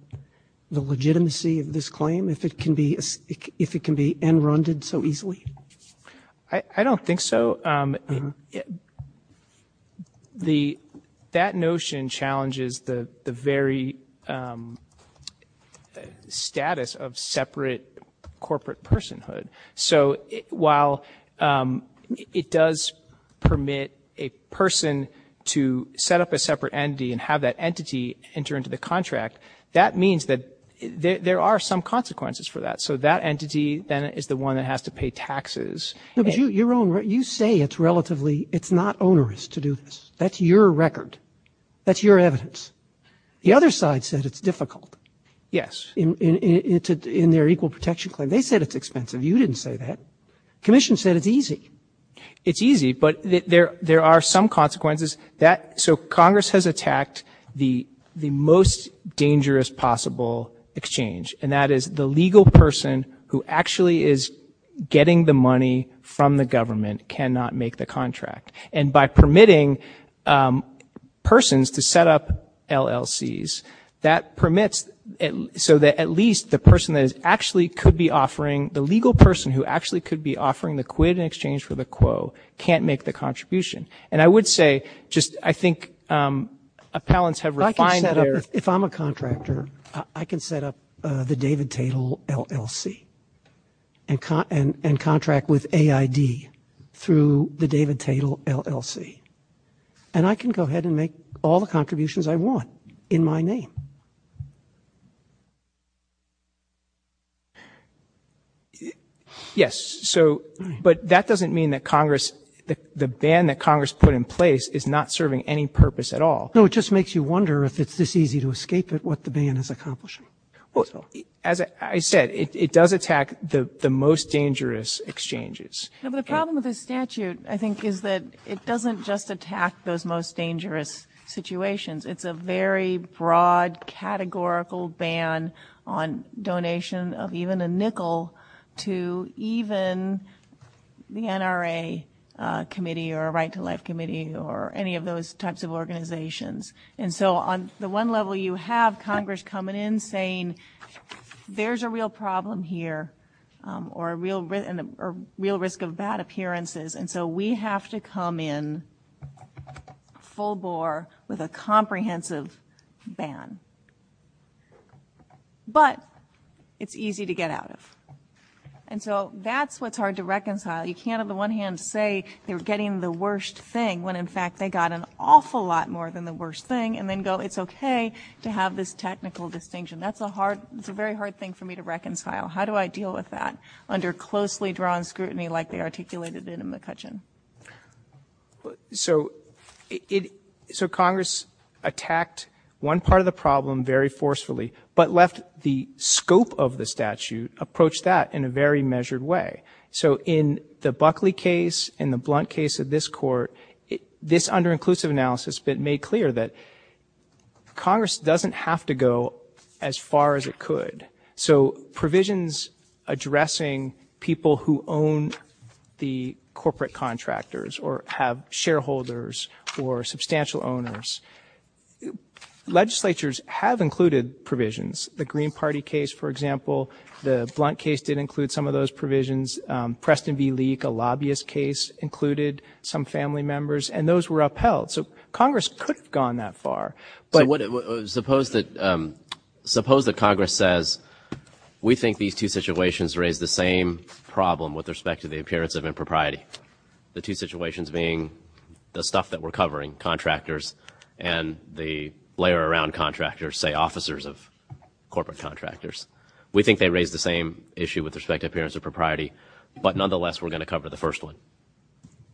the legitimacy of this claim, if it can be end-rounded so easily? I don't think so. That notion challenges the very status of separate corporate personhood. So while it does permit a person to set up a separate entity and have that entity enter into the contract, that means that there are some consequences for that. So that entity then is the one that has to pay taxes. You say it's relatively-it's not onerous to do this. That's your record. That's your evidence. The other side says it's difficult. Yes. In their equal protection claim, they said it's expensive. You didn't say that. The commission said it's easy. It's easy, but there are some consequences. So Congress has attacked the most dangerous possible exchange, and that is the legal person who actually is getting the money from the government cannot make the contract. And by permitting persons to set up LLCs, so that at least the person that actually could be offering-the legal person who actually could be offering the quid in exchange for the quo can't make the contribution. And I would say just I think appellants have refined their- If I'm a contractor, I can set up the David Tatel LLC and contract with AID through the David Tatel LLC, and I can go ahead and make all the contributions I want in my name. Yes, so-but that doesn't mean that Congress-the ban that Congress put in place is not serving any purpose at all. No, it just makes you wonder if it's this easy to escape it what the ban has accomplished. Well, as I said, it does attack the most dangerous exchanges. The problem with the statute, I think, is that it doesn't just attack those most dangerous situations. It's a very broad categorical ban on donation of even a nickel to even the NRA committee or a right-to-life committee or any of those types of organizations. And so on the one level, you have Congress coming in saying, there's a real problem here or a real risk of bad appearances, and so we have to come in full bore with a comprehensive ban. But it's easy to get out of. And so that's what's hard to reconcile. You can't, on the one hand, say they're getting the worst thing, when in fact they got an awful lot more than the worst thing, and then go, it's okay to have this technical distinction. That's a very hard thing for me to reconcile. How do I deal with that under closely drawn scrutiny like they articulated in McCutcheon? So Congress attacked one part of the problem very forcefully, but left the scope of the statute approach that in a very measured way. So in the Buckley case, in the Blunt case of this court, this under-inclusive analysis that made clear that Congress doesn't have to go as far as it could. So provisions addressing people who own the corporate contractors or have shareholders or substantial owners, legislatures have included provisions. The Green Party case, for example, the Blunt case did include some of those provisions. Preston v. Leak, a lobbyist case, included some family members, and those were upheld. So Congress could have gone that far. But suppose that Congress says, we think these two situations raise the same problem with respect to the appearance of impropriety. The two situations being the stuff that we're covering, contractors and the layer around contractors, say officers of corporate contractors. We think they raise the same issue with respect to appearance of propriety, but nonetheless we're going to cover the first one.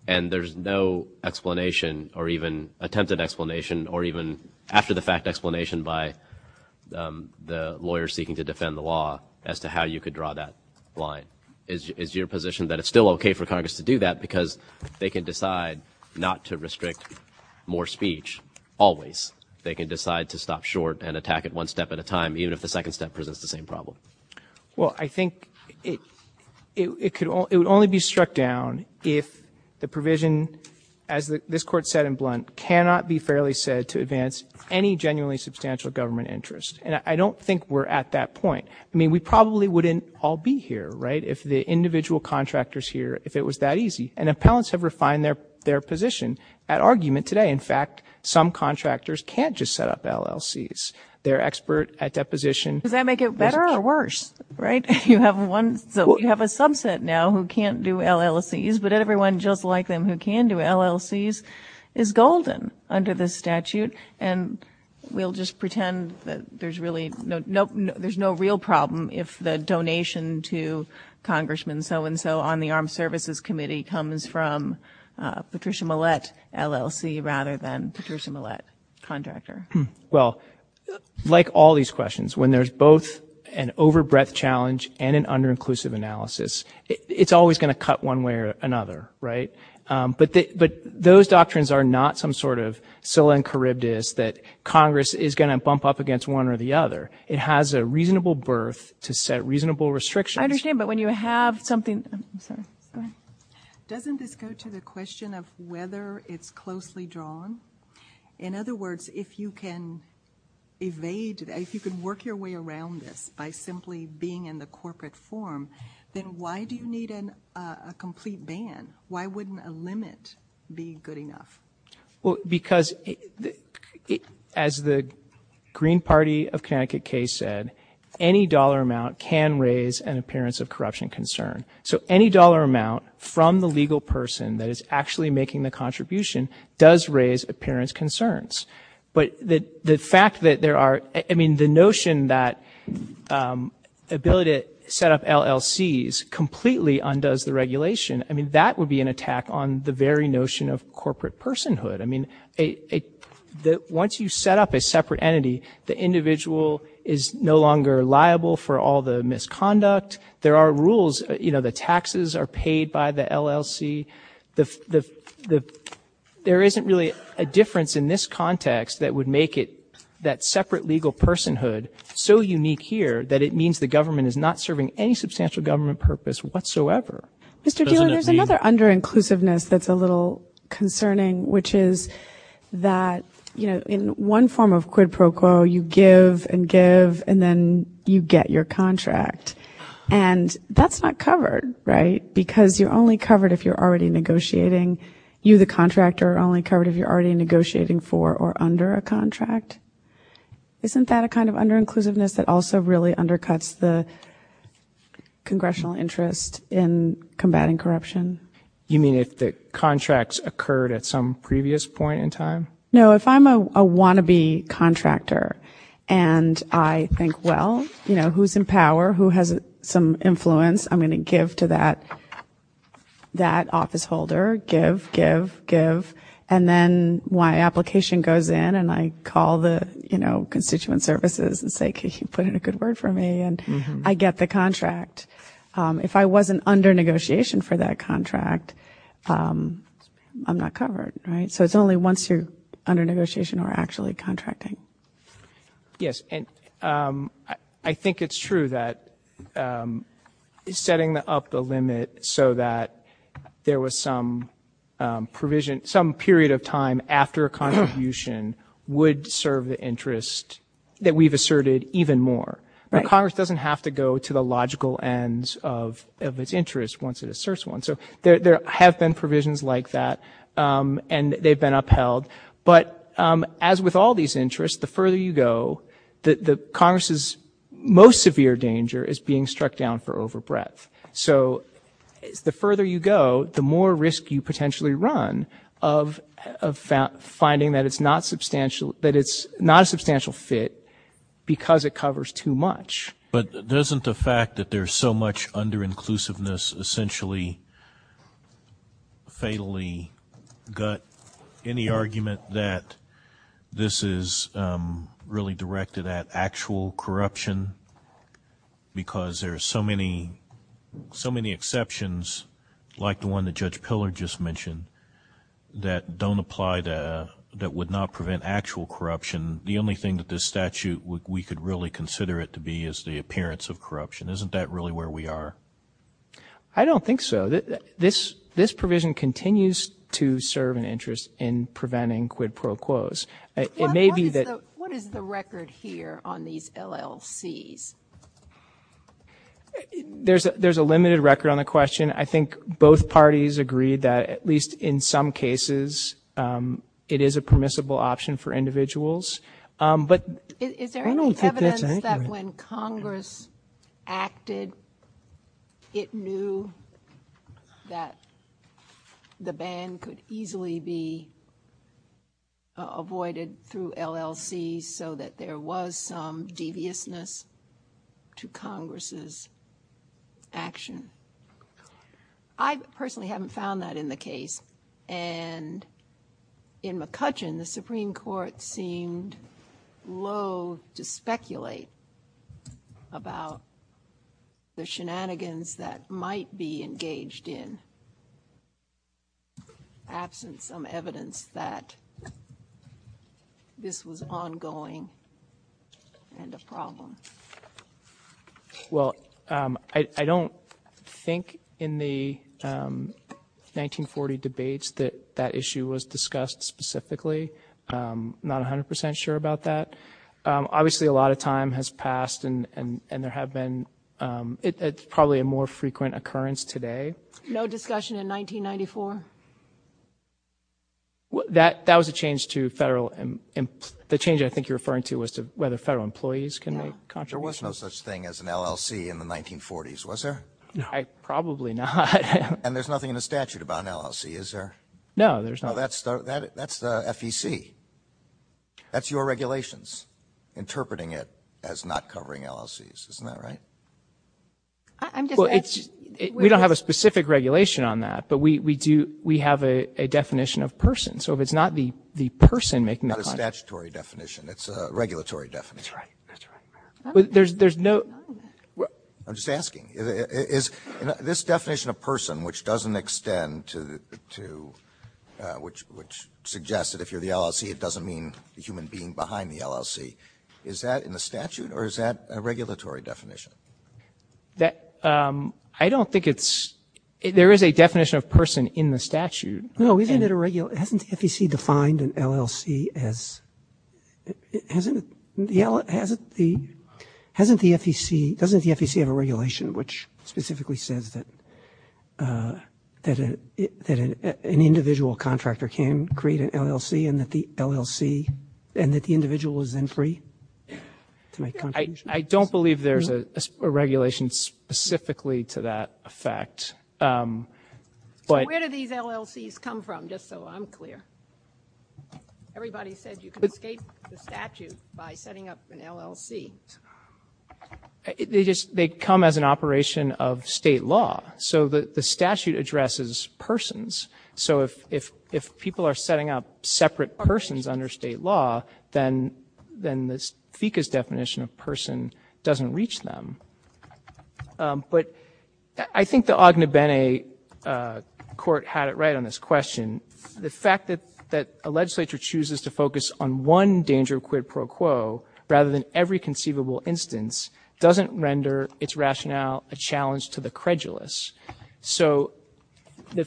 And there's no explanation or even attempted explanation or even after-the-fact explanation by the lawyers seeking to defend the law as to how you could draw that line. Is your position that it's still okay for Congress to do that because they can decide not to restrict more speech always? They can decide to stop short and attack it one step at a time even if the second step presents the same problem? Well, I think it would only be struck down if the provision, as this court said in blunt, cannot be fairly said to advance any genuinely substantial government interest. And I don't think we're at that point. I mean, we probably wouldn't all be here, right, if the individual contractors here, if it was that easy. And appellants have refined their position at argument today. In fact, some contractors can't just set up LLCs. They're expert at deposition. Does that make it better or worse, right? You have a subset now who can't do LLCs, but everyone just like them who can do LLCs is golden under this statute. And we'll just pretend that there's really no real problem if the donation to Congressman so-and-so on the Armed Services Committee comes from Patricia Millett, LLC, rather than Patricia Millett, contractor. Well, like all these questions, when there's both an over-breadth challenge and an under-inclusive analysis, it's always going to cut one way or another, right? But those doctrines are not some sort of solemn charybdis that Congress is going to bump up against one or the other. It has a reasonable berth to set reasonable restrictions. I understand, but when you have something... I'm sorry. Go ahead. Doesn't this go to the question of whether it's closely drawn? In other words, if you can work your way around this by simply being in the corporate form, then why do you need a complete ban? Why wouldn't a limit be good enough? Well, because as the Green Party of Connecticut case said, any dollar amount can raise an appearance of corruption concern. So any dollar amount from the legal person that is actually making the contribution does raise appearance concerns. But the fact that there are... I mean, the notion that the ability to set up LLCs completely undoes the regulation, I mean, that would be an attack on the very notion of corporate personhood. I mean, once you set up a separate entity, the individual is no longer liable for all the misconduct. There are rules. You know, the taxes are paid by the LLC. There isn't really a difference in this context that would make it that separate legal personhood so unique here that it means the government is not serving any substantial government purpose whatsoever. Mr. Fieler, there's another under-inclusiveness that's a little concerning, which is that, you know, in one form of quid pro quo, you give and give and then you get your contract. And that's not covered, right? Because you're only covered if you're already negotiating. You, the contractor, are only covered if you're already negotiating for or under a contract. Isn't that a kind of under-inclusiveness that also really undercuts the congressional interest in combating corruption? You mean if the contracts occurred at some previous point in time? No, if I'm a wannabe contractor and I think, well, you know, who's in power, who has some influence? I'm going to give to that office holder. Give, give, give. And then my application goes in and I call the, you know, constituent services and say, can you put in a good word for me? And I get the contract. If I wasn't under negotiation for that contract, I'm not covered, right? So it's only once you're under negotiation or actually contracting. Yes, and I think it's true that setting up the limit so that there was some provision, some period of time after a contribution would serve the interest that we've asserted even more. Congress doesn't have to go to the logical ends of its interest once it asserts one. So there have been provisions like that and they've been upheld. But as with all these interests, the further you go, the Congress's most severe danger is being struck down for over breadth. So the further you go, the more risk you potentially run of finding that it's not a substantial fit because it covers too much. But doesn't the fact that there's so much under-inclusiveness essentially fatally gut any argument that this is really directed at actual corruption because there are so many exceptions, like the one that Judge Pillard just mentioned, that would not prevent actual corruption, the only thing that this statute we could really consider it to be is the appearance of corruption. Isn't that really where we are? I don't think so. This provision continues to serve an interest in preventing quid pro quos. What is the record here on these LLCs? There's a limited record on the question. I think both parties agree that at least in some cases, it is a permissible option for individuals. Is there any evidence that when Congress acted, it knew that the ban could easily be avoided through LLCs so that there was some deviousness to Congress's action? I personally haven't found that in the case. In McCutcheon, the Supreme Court seemed loathe to speculate about the shenanigans that might be engaged in absent some evidence that this was ongoing and a problem. Well, I don't think in the 1940 debates that that issue was discussed specifically. I'm not 100% sure about that. Obviously, a lot of time has passed, and it's probably a more frequent occurrence today. No discussion in 1994? That was a change to federal. The change I think you're referring to was to whether federal employees can make contributions. There was no such thing as an LLC in the 1940s, was there? Probably not. And there's nothing in the statute about an LLC, is there? No, there's not. That's the FEC. That's your regulations, interpreting it as not covering LLCs, isn't that right? We don't have a specific regulation on that, but we have a definition of person. So if it's not the person making the... It's a statutory definition. It's a regulatory definition. That's right, that's right. There's no... I'm just asking. This definition of person, which doesn't extend to... which suggests that if you're the LLC, it doesn't mean the human being behind the LLC, is that in the statute, or is that a regulatory definition? I don't think it's... There is a definition of person in the statute. Hasn't the FEC defined an LLC as... Hasn't the FEC... Doesn't the FEC have a regulation which specifically says that an individual contractor can create an LLC and that the LLC... and that the individual is then free to make contributions? I don't believe there's a regulation specifically to that effect. Where do these LLCs come from, just so I'm clear? Everybody says you can escape the statute by setting up an LLC. They come as an operation of state law. So the statute addresses persons. So if people are setting up separate persons under state law, then the FECA's definition of person doesn't reach them. But I think the Ognebene court had it right on this question. The fact that a legislature chooses to focus on one danger of quid pro quo rather than every conceivable instance doesn't render its rationale a challenge to the credulous. So the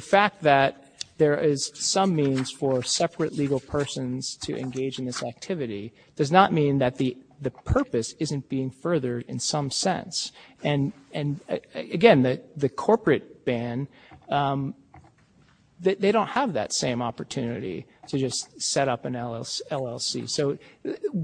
fact that there is some means for separate legal persons to engage in this activity does not mean that the purpose isn't being furthered in some sense. And again, the corporate ban, they don't have that same opportunity to just set up an LLC. So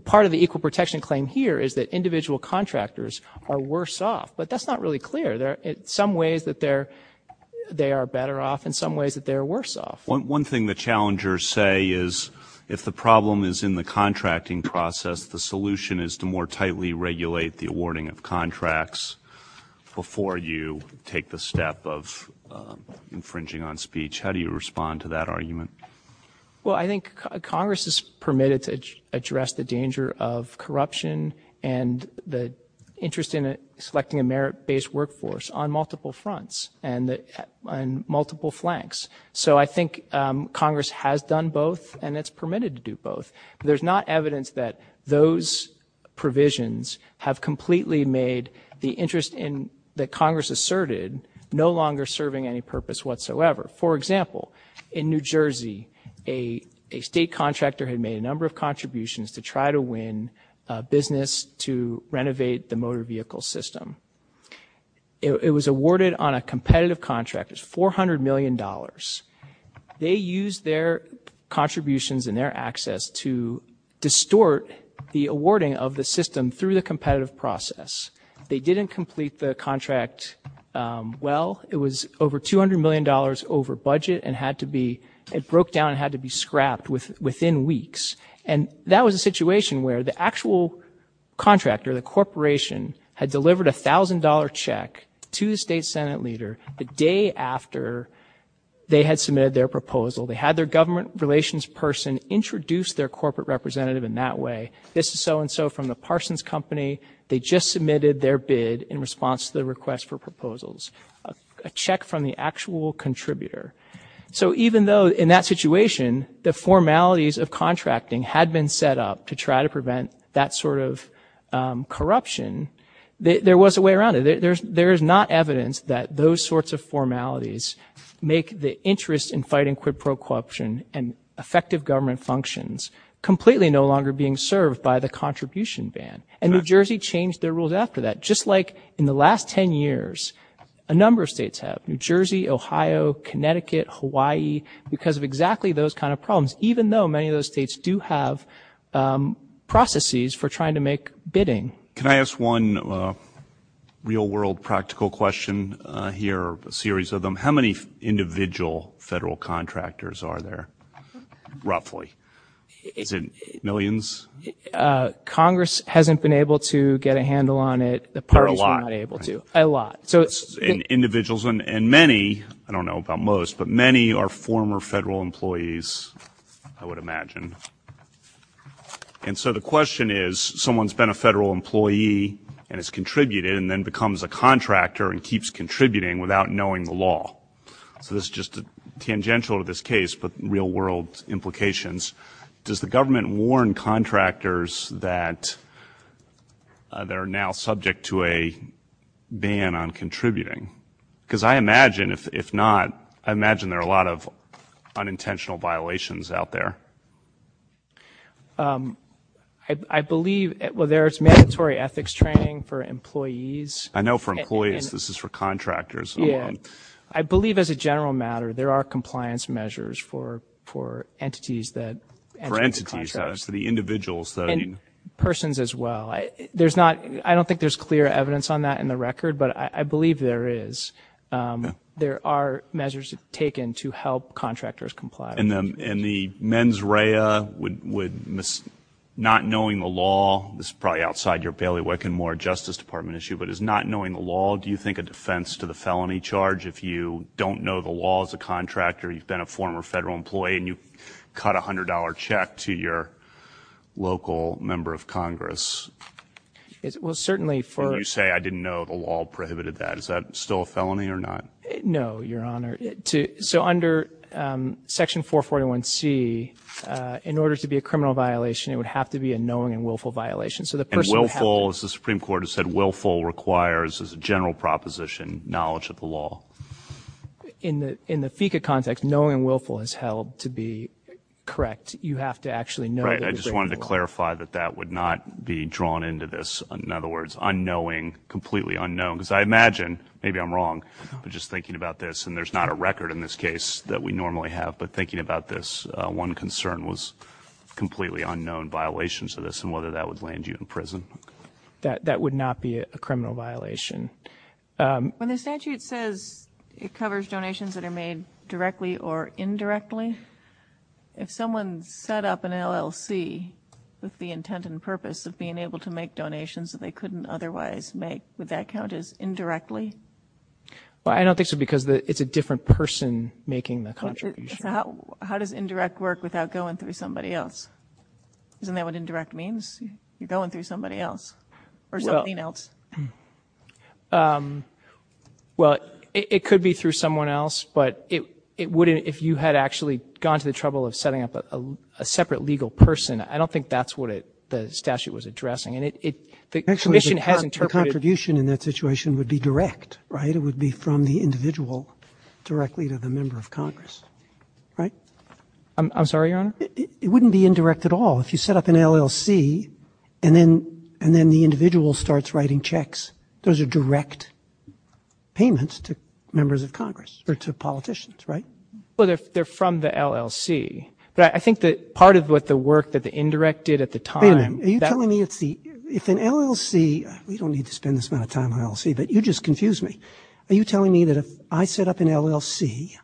part of the equal protection claim here is that individual contractors are worse off. But that's not really clear. Some ways that they are better off and some ways that they are worse off. One thing the challengers say is if the problem is in the contracting process, the solution is to more tightly regulate the awarding of contracts before you take the step of infringing on speech. How do you respond to that argument? Well, I think Congress has permitted to address the danger of corruption and the interest in selecting a merit-based workforce on multiple fronts and on multiple flanks. So I think Congress has done both and it's permitted to do both. There's not evidence that those provisions have completely made the interest that Congress asserted no longer serving any purpose whatsoever. For example, in New Jersey, a state contractor had made a number of contributions to try to win business to renovate the motor vehicle system. It was awarded on a competitive contract. It was $400 million. They used their contributions and their access to distort the awarding of the system through the competitive process. They didn't complete the contract well. It was over $200 million over budget and it broke down and had to be scrapped within weeks. And that was a situation where the actual contractor, the corporation, had delivered a $1,000 check to the state senate leader the day after they had submitted their proposal. They had their government relations person introduce their corporate representative in that way. This is so-and-so from the Parsons Company. They just submitted their bid in response to the request for proposals. A check from the actual contributor. So even though in that situation, the formalities of contracting had been set up to try to prevent that sort of corruption, there was a way around it. There is not evidence that those sorts of formalities make the interest in fighting corporate corruption and effective government functions completely no longer being served by the contribution ban. And New Jersey changed their rules after that. Just like in the last 10 years, a number of states have. New Jersey, Ohio, Connecticut, Hawaii, because of exactly those kind of problems. Even though many of those states do have processes for trying to make bidding. Can I ask one real-world practical question here? A series of them. How many individual federal contractors are there, roughly? Is it millions? Congress hasn't been able to get a handle on it. The parties were not able to. A lot. A lot. Individuals and many, I don't know about most, but many are former federal employees, I would imagine. And so the question is, someone's been a federal employee and has contributed and then becomes a contractor and keeps contributing without knowing the law. So this is just tangential to this case, but real-world implications. Does the government warn contractors that they're now subject to a ban on contributing? Because I imagine if not, I imagine there are a lot of unintentional violations out there. I believe there's mandatory ethics training for employees. I know for employees. This is for contractors. I believe as a general matter there are compliance measures for entities. For entities, for the individuals. Persons as well. I don't think there's clear evidence on that in the record, but I believe there is. There are measures taken to help contractors comply. And the mens rea, not knowing the law, this is probably outside your bailiwick and more Justice Department issue, but is not knowing the law, do you think, a defense to the felony charge if you don't know the law as a contractor, you've been a former federal employee, You say, I didn't know the law prohibited that. Is that still a felony or not? No, Your Honor. So under Section 441C, in order to be a criminal violation, it would have to be a knowing and willful violation. And willful, as the Supreme Court has said, willful requires as a general proposition knowledge of the law. In the FECA context, knowing and willful is held to be correct. You have to actually know. I just wanted to clarify that that would not be drawn into this. In other words, unknowing, completely unknown. Because I imagine, maybe I'm wrong, but just thinking about this, and there's not a record in this case that we normally have, but thinking about this, one concern was completely unknown violations of this and whether that would land you in prison. That would not be a criminal violation. When the statute says it covers donations that are made directly or indirectly, if someone set up an LLC with the intent and purpose of being able to make donations that they couldn't otherwise make, would that count as indirectly? I don't think so because it's a different person making the contribution. How does indirect work without going through somebody else? Isn't that what indirect means? You're going through somebody else or something else. It could be through someone else, but if you had actually gone to the trouble of setting up a separate legal person, I don't think that's what the statute was addressing. The contribution in that situation would be direct. It would be from the individual directly to the member of Congress. I'm sorry, Your Honor? It wouldn't be indirect at all. If you set up an LLC and then the individual starts writing checks, those are direct payments to members of Congress or to politicians, right? Well, they're from the LLC. I think that part of what the work that the indirect did at the time. Are you telling me if an LLC, we don't need to spend this amount of time on LLC, but you just confused me. Are you telling me that if I set up an LLC,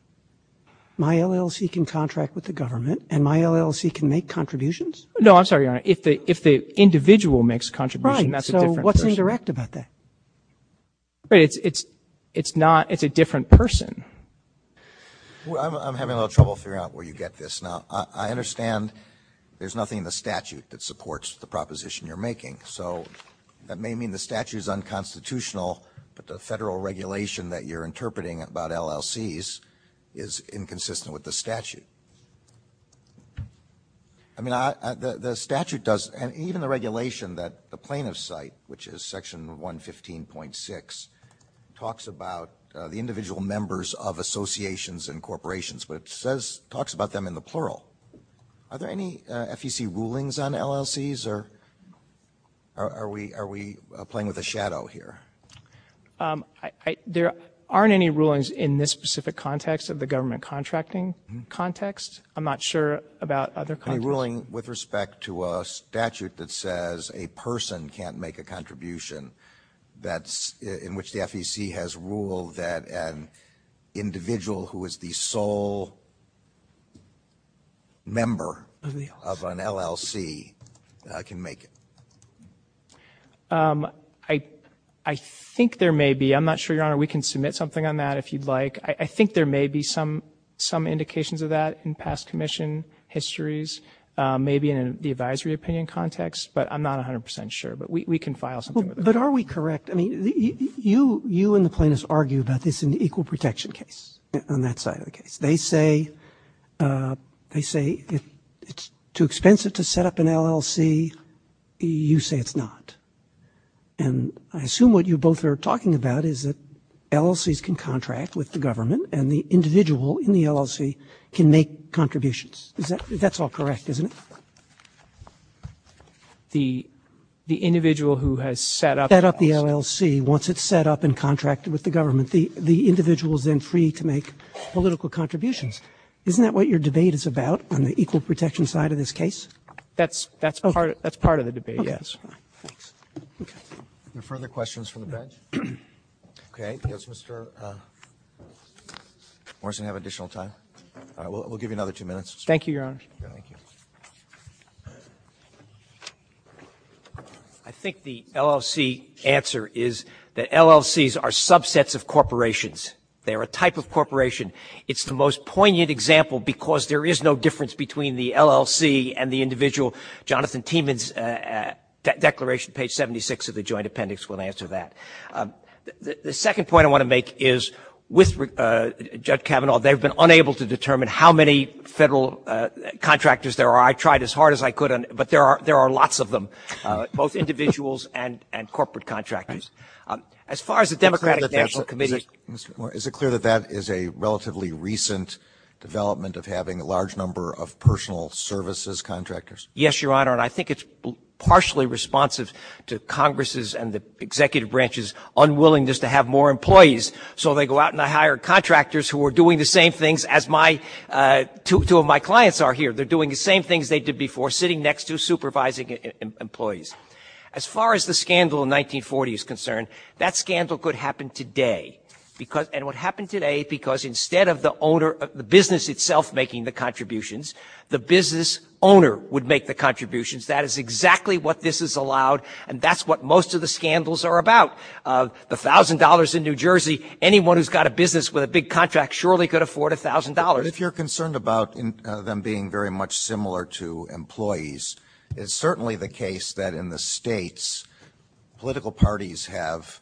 my LLC can contract with the government and my LLC can make contributions? No, I'm sorry, Your Honor. If the individual makes contributions, that's a different person. You're correct about that. But it's not, it's a different person. I'm having a little trouble figuring out where you get this. Now, I understand there's nothing in the statute that supports the proposition you're making. So that may mean the statute is unconstitutional, but the federal regulation that you're interpreting about LLCs is inconsistent with the statute. I mean, the statute does, and even the regulation that the plaintiffs cite, which is section 115.6, talks about the individual members of associations and corporations, but it says, talks about them in the plural. Are there any FEC rulings on LLCs or are we playing with a shadow here? There aren't any rulings in this specific context of the government contracting. I'm not sure about other contexts. A ruling with respect to a statute that says a person can't make a contribution, that's in which the FEC has ruled that an individual who is the sole member of an LLC can make it. I think there may be. I'm not sure, Your Honor. We can submit something on that if you'd like. I think there may be some indications of that in past commission histories, maybe in the advisory opinion context, but I'm not 100 percent sure. But we can file something. But are we correct? I mean, you and the plaintiffs argue that it's an equal protection case on that side of the case. They say it's too expensive to set up an LLC. You say it's not. And I assume what you both are talking about is that LLCs can contract with the government and the individual in the LLC can make contributions. That's all correct, isn't it? The individual who has set up the LLC, once it's set up and contracted with the government, the individual is then free to make political contributions. Isn't that what your debate is about on the equal protection side of this case? That's part of the debate, yes. Any further questions from the bench? Okay. Does Mr. Morrison have additional time? We'll give you another two minutes. Thank you, Your Honor. Thank you. I think the LLC answer is that LLCs are subsets of corporations. They are a type of corporation. It's the most poignant example because there is no difference between the LLC and the individual. Jonathan Tiemann's declaration, page 76 of the joint appendix, will answer that. The second point I want to make is with Judge Kavanaugh, they've been unable to determine how many federal contractors there are. I tried as hard as I could, but there are lots of them, both individuals and corporate contractors. Is it clear that that is a relatively recent development of having a large number of personal services contractors? Yes, Your Honor, and I think it's partially responsive to Congress' and the executive branch's unwillingness to have more employees, so they go out and hire contractors who are doing the same things as two of my clients are here. They're doing the same things they did before, sitting next to supervising employees. As far as the scandal in 1940 is concerned, that scandal could happen today, and it would happen today because instead of the business itself making the contributions, the business owner would make the contributions. That is exactly what this has allowed, and that's what most of the scandals are about. The $1,000 in New Jersey, anyone who's got a business with a big contract surely could afford $1,000. If you're concerned about them being very much similar to employees, it's certainly the case that in the states, political parties have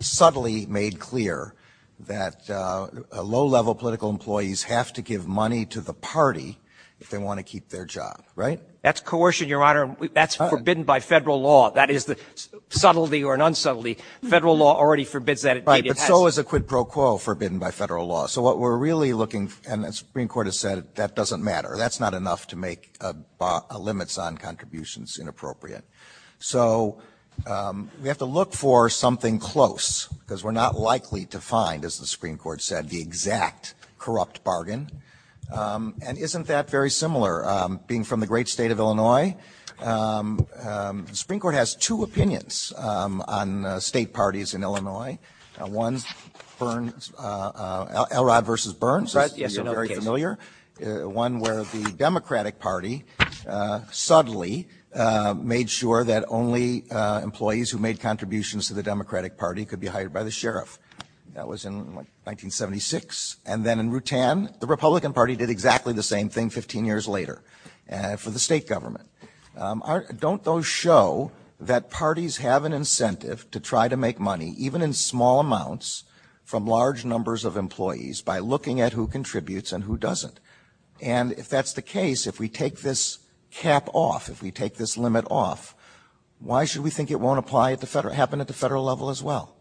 subtly made clear that low-level political employees have to give money to the party if they want to keep their job, right? That's coercion, Your Honor, and that's forbidden by federal law. That is the subtlety or non-subtlety. Federal law already forbids that. Right, but so is a quid pro quo forbidden by federal law, and the Supreme Court has said that doesn't matter. That's not enough to make limits on contributions inappropriate. So we have to look for something close because we're not likely to find, as the Supreme Court said, the exact corrupt bargain, and isn't that very similar? Being from the great state of Illinois, the Supreme Court has two opinions on state parties in Illinois. One, Elrod v. Burns, one where the Democratic Party subtly made sure that only employees who made contributions to the Democratic Party could be hired by the sheriff. That was in 1976, and then in Rutan, the Republican Party did exactly the same thing 15 years later for the state government. Don't those show that parties have an incentive to try to make money, even in small amounts, from large numbers of employees by looking at who contributes and who doesn't? And if that's the case, if we take this cap off, if we take this limit off, why should we think it won't happen at the federal level as well?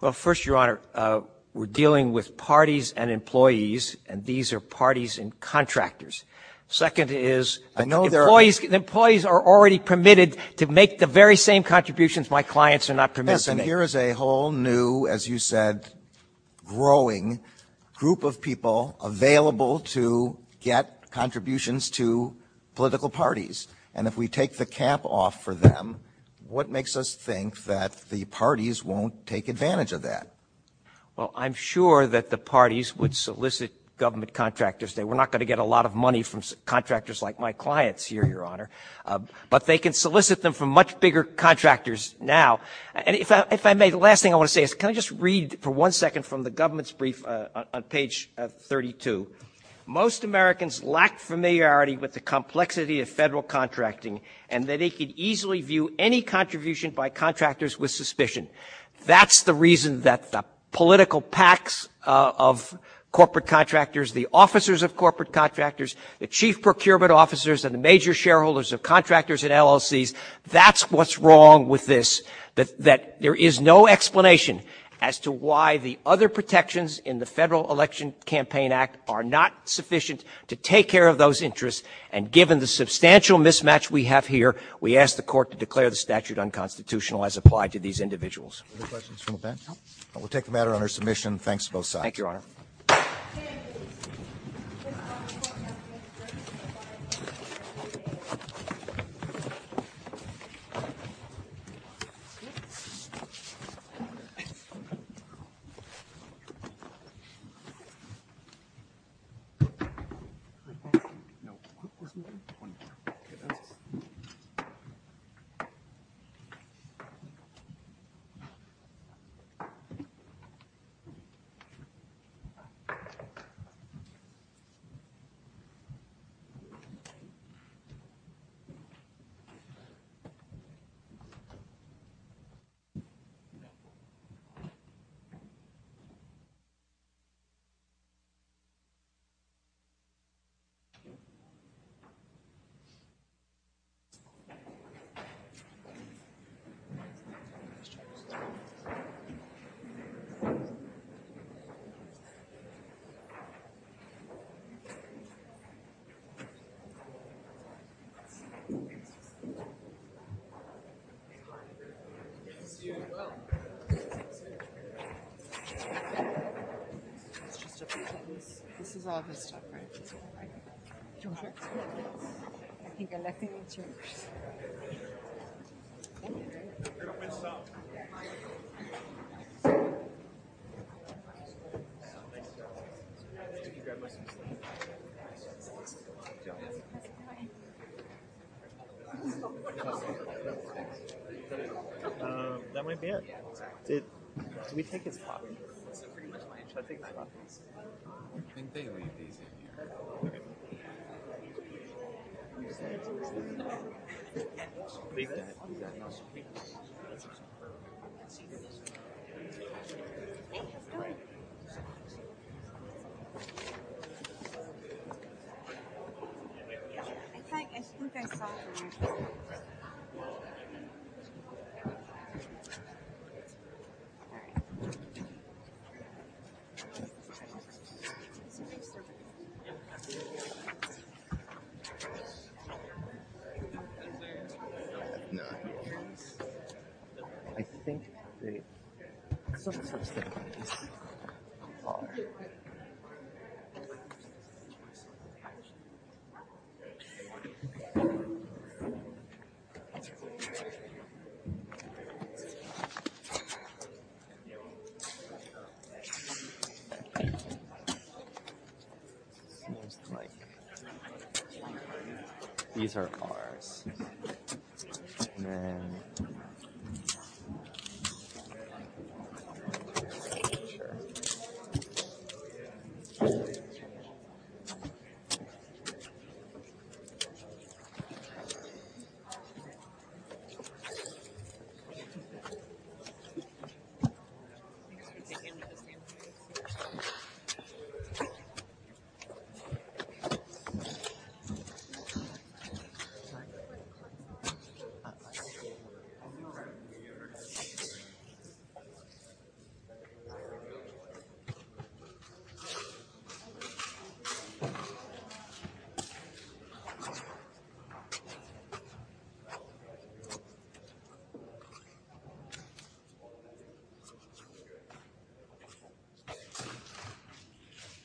Well, first, Your Honor, we're dealing with parties and employees, and these are parties and contractors. Second is, employees are already permitted to make the very same contributions my clients are not permitted to make. Yes, and here is a whole new, as you said, growing group of people available to get contributions to political parties. And if we take the cap off for them, what makes us think that the parties won't take advantage of that? Well, I'm sure that the parties would solicit government contractors. We're not going to get a lot of money from contractors like my clients here, Your Honor, but they can solicit them from much bigger contractors now. And if I may, the last thing I want to say is can I just read for one second from the government's brief on page 32? Most Americans lack familiarity with the complexity of federal contracting and that they could easily view any contribution by contractors with suspicion. That's the reason that the political packs of corporate contractors, the officers of corporate contractors, the chief procurement officers, and the major shareholders of contractors in LLCs, that's what's wrong with this, that there is no explanation as to why the other protections in the Federal Election Campaign Act are not sufficient to take care of those interests. And given the substantial mismatch we have here, we ask the court to declare the statute unconstitutional as applied to these individuals. Other questions from the panel? We'll take the matter under submission. Thanks both sides. Thank you, Your Honor. Thank you. Thank you, Your Honor. Thank you, Your Honor. Thank you, Your Honor. That might be it. Thank you, Your Honor. Thank you, Your Honor. Thank you, Your Honor. Thank you, Your Honor. Thank you, Your Honor. Thank you, Your Honor. Thank you, Your Honor. Thank you, Your Honor. Thank you, Your Honor. Thank you, Your Honor. Thank you, Your Honor.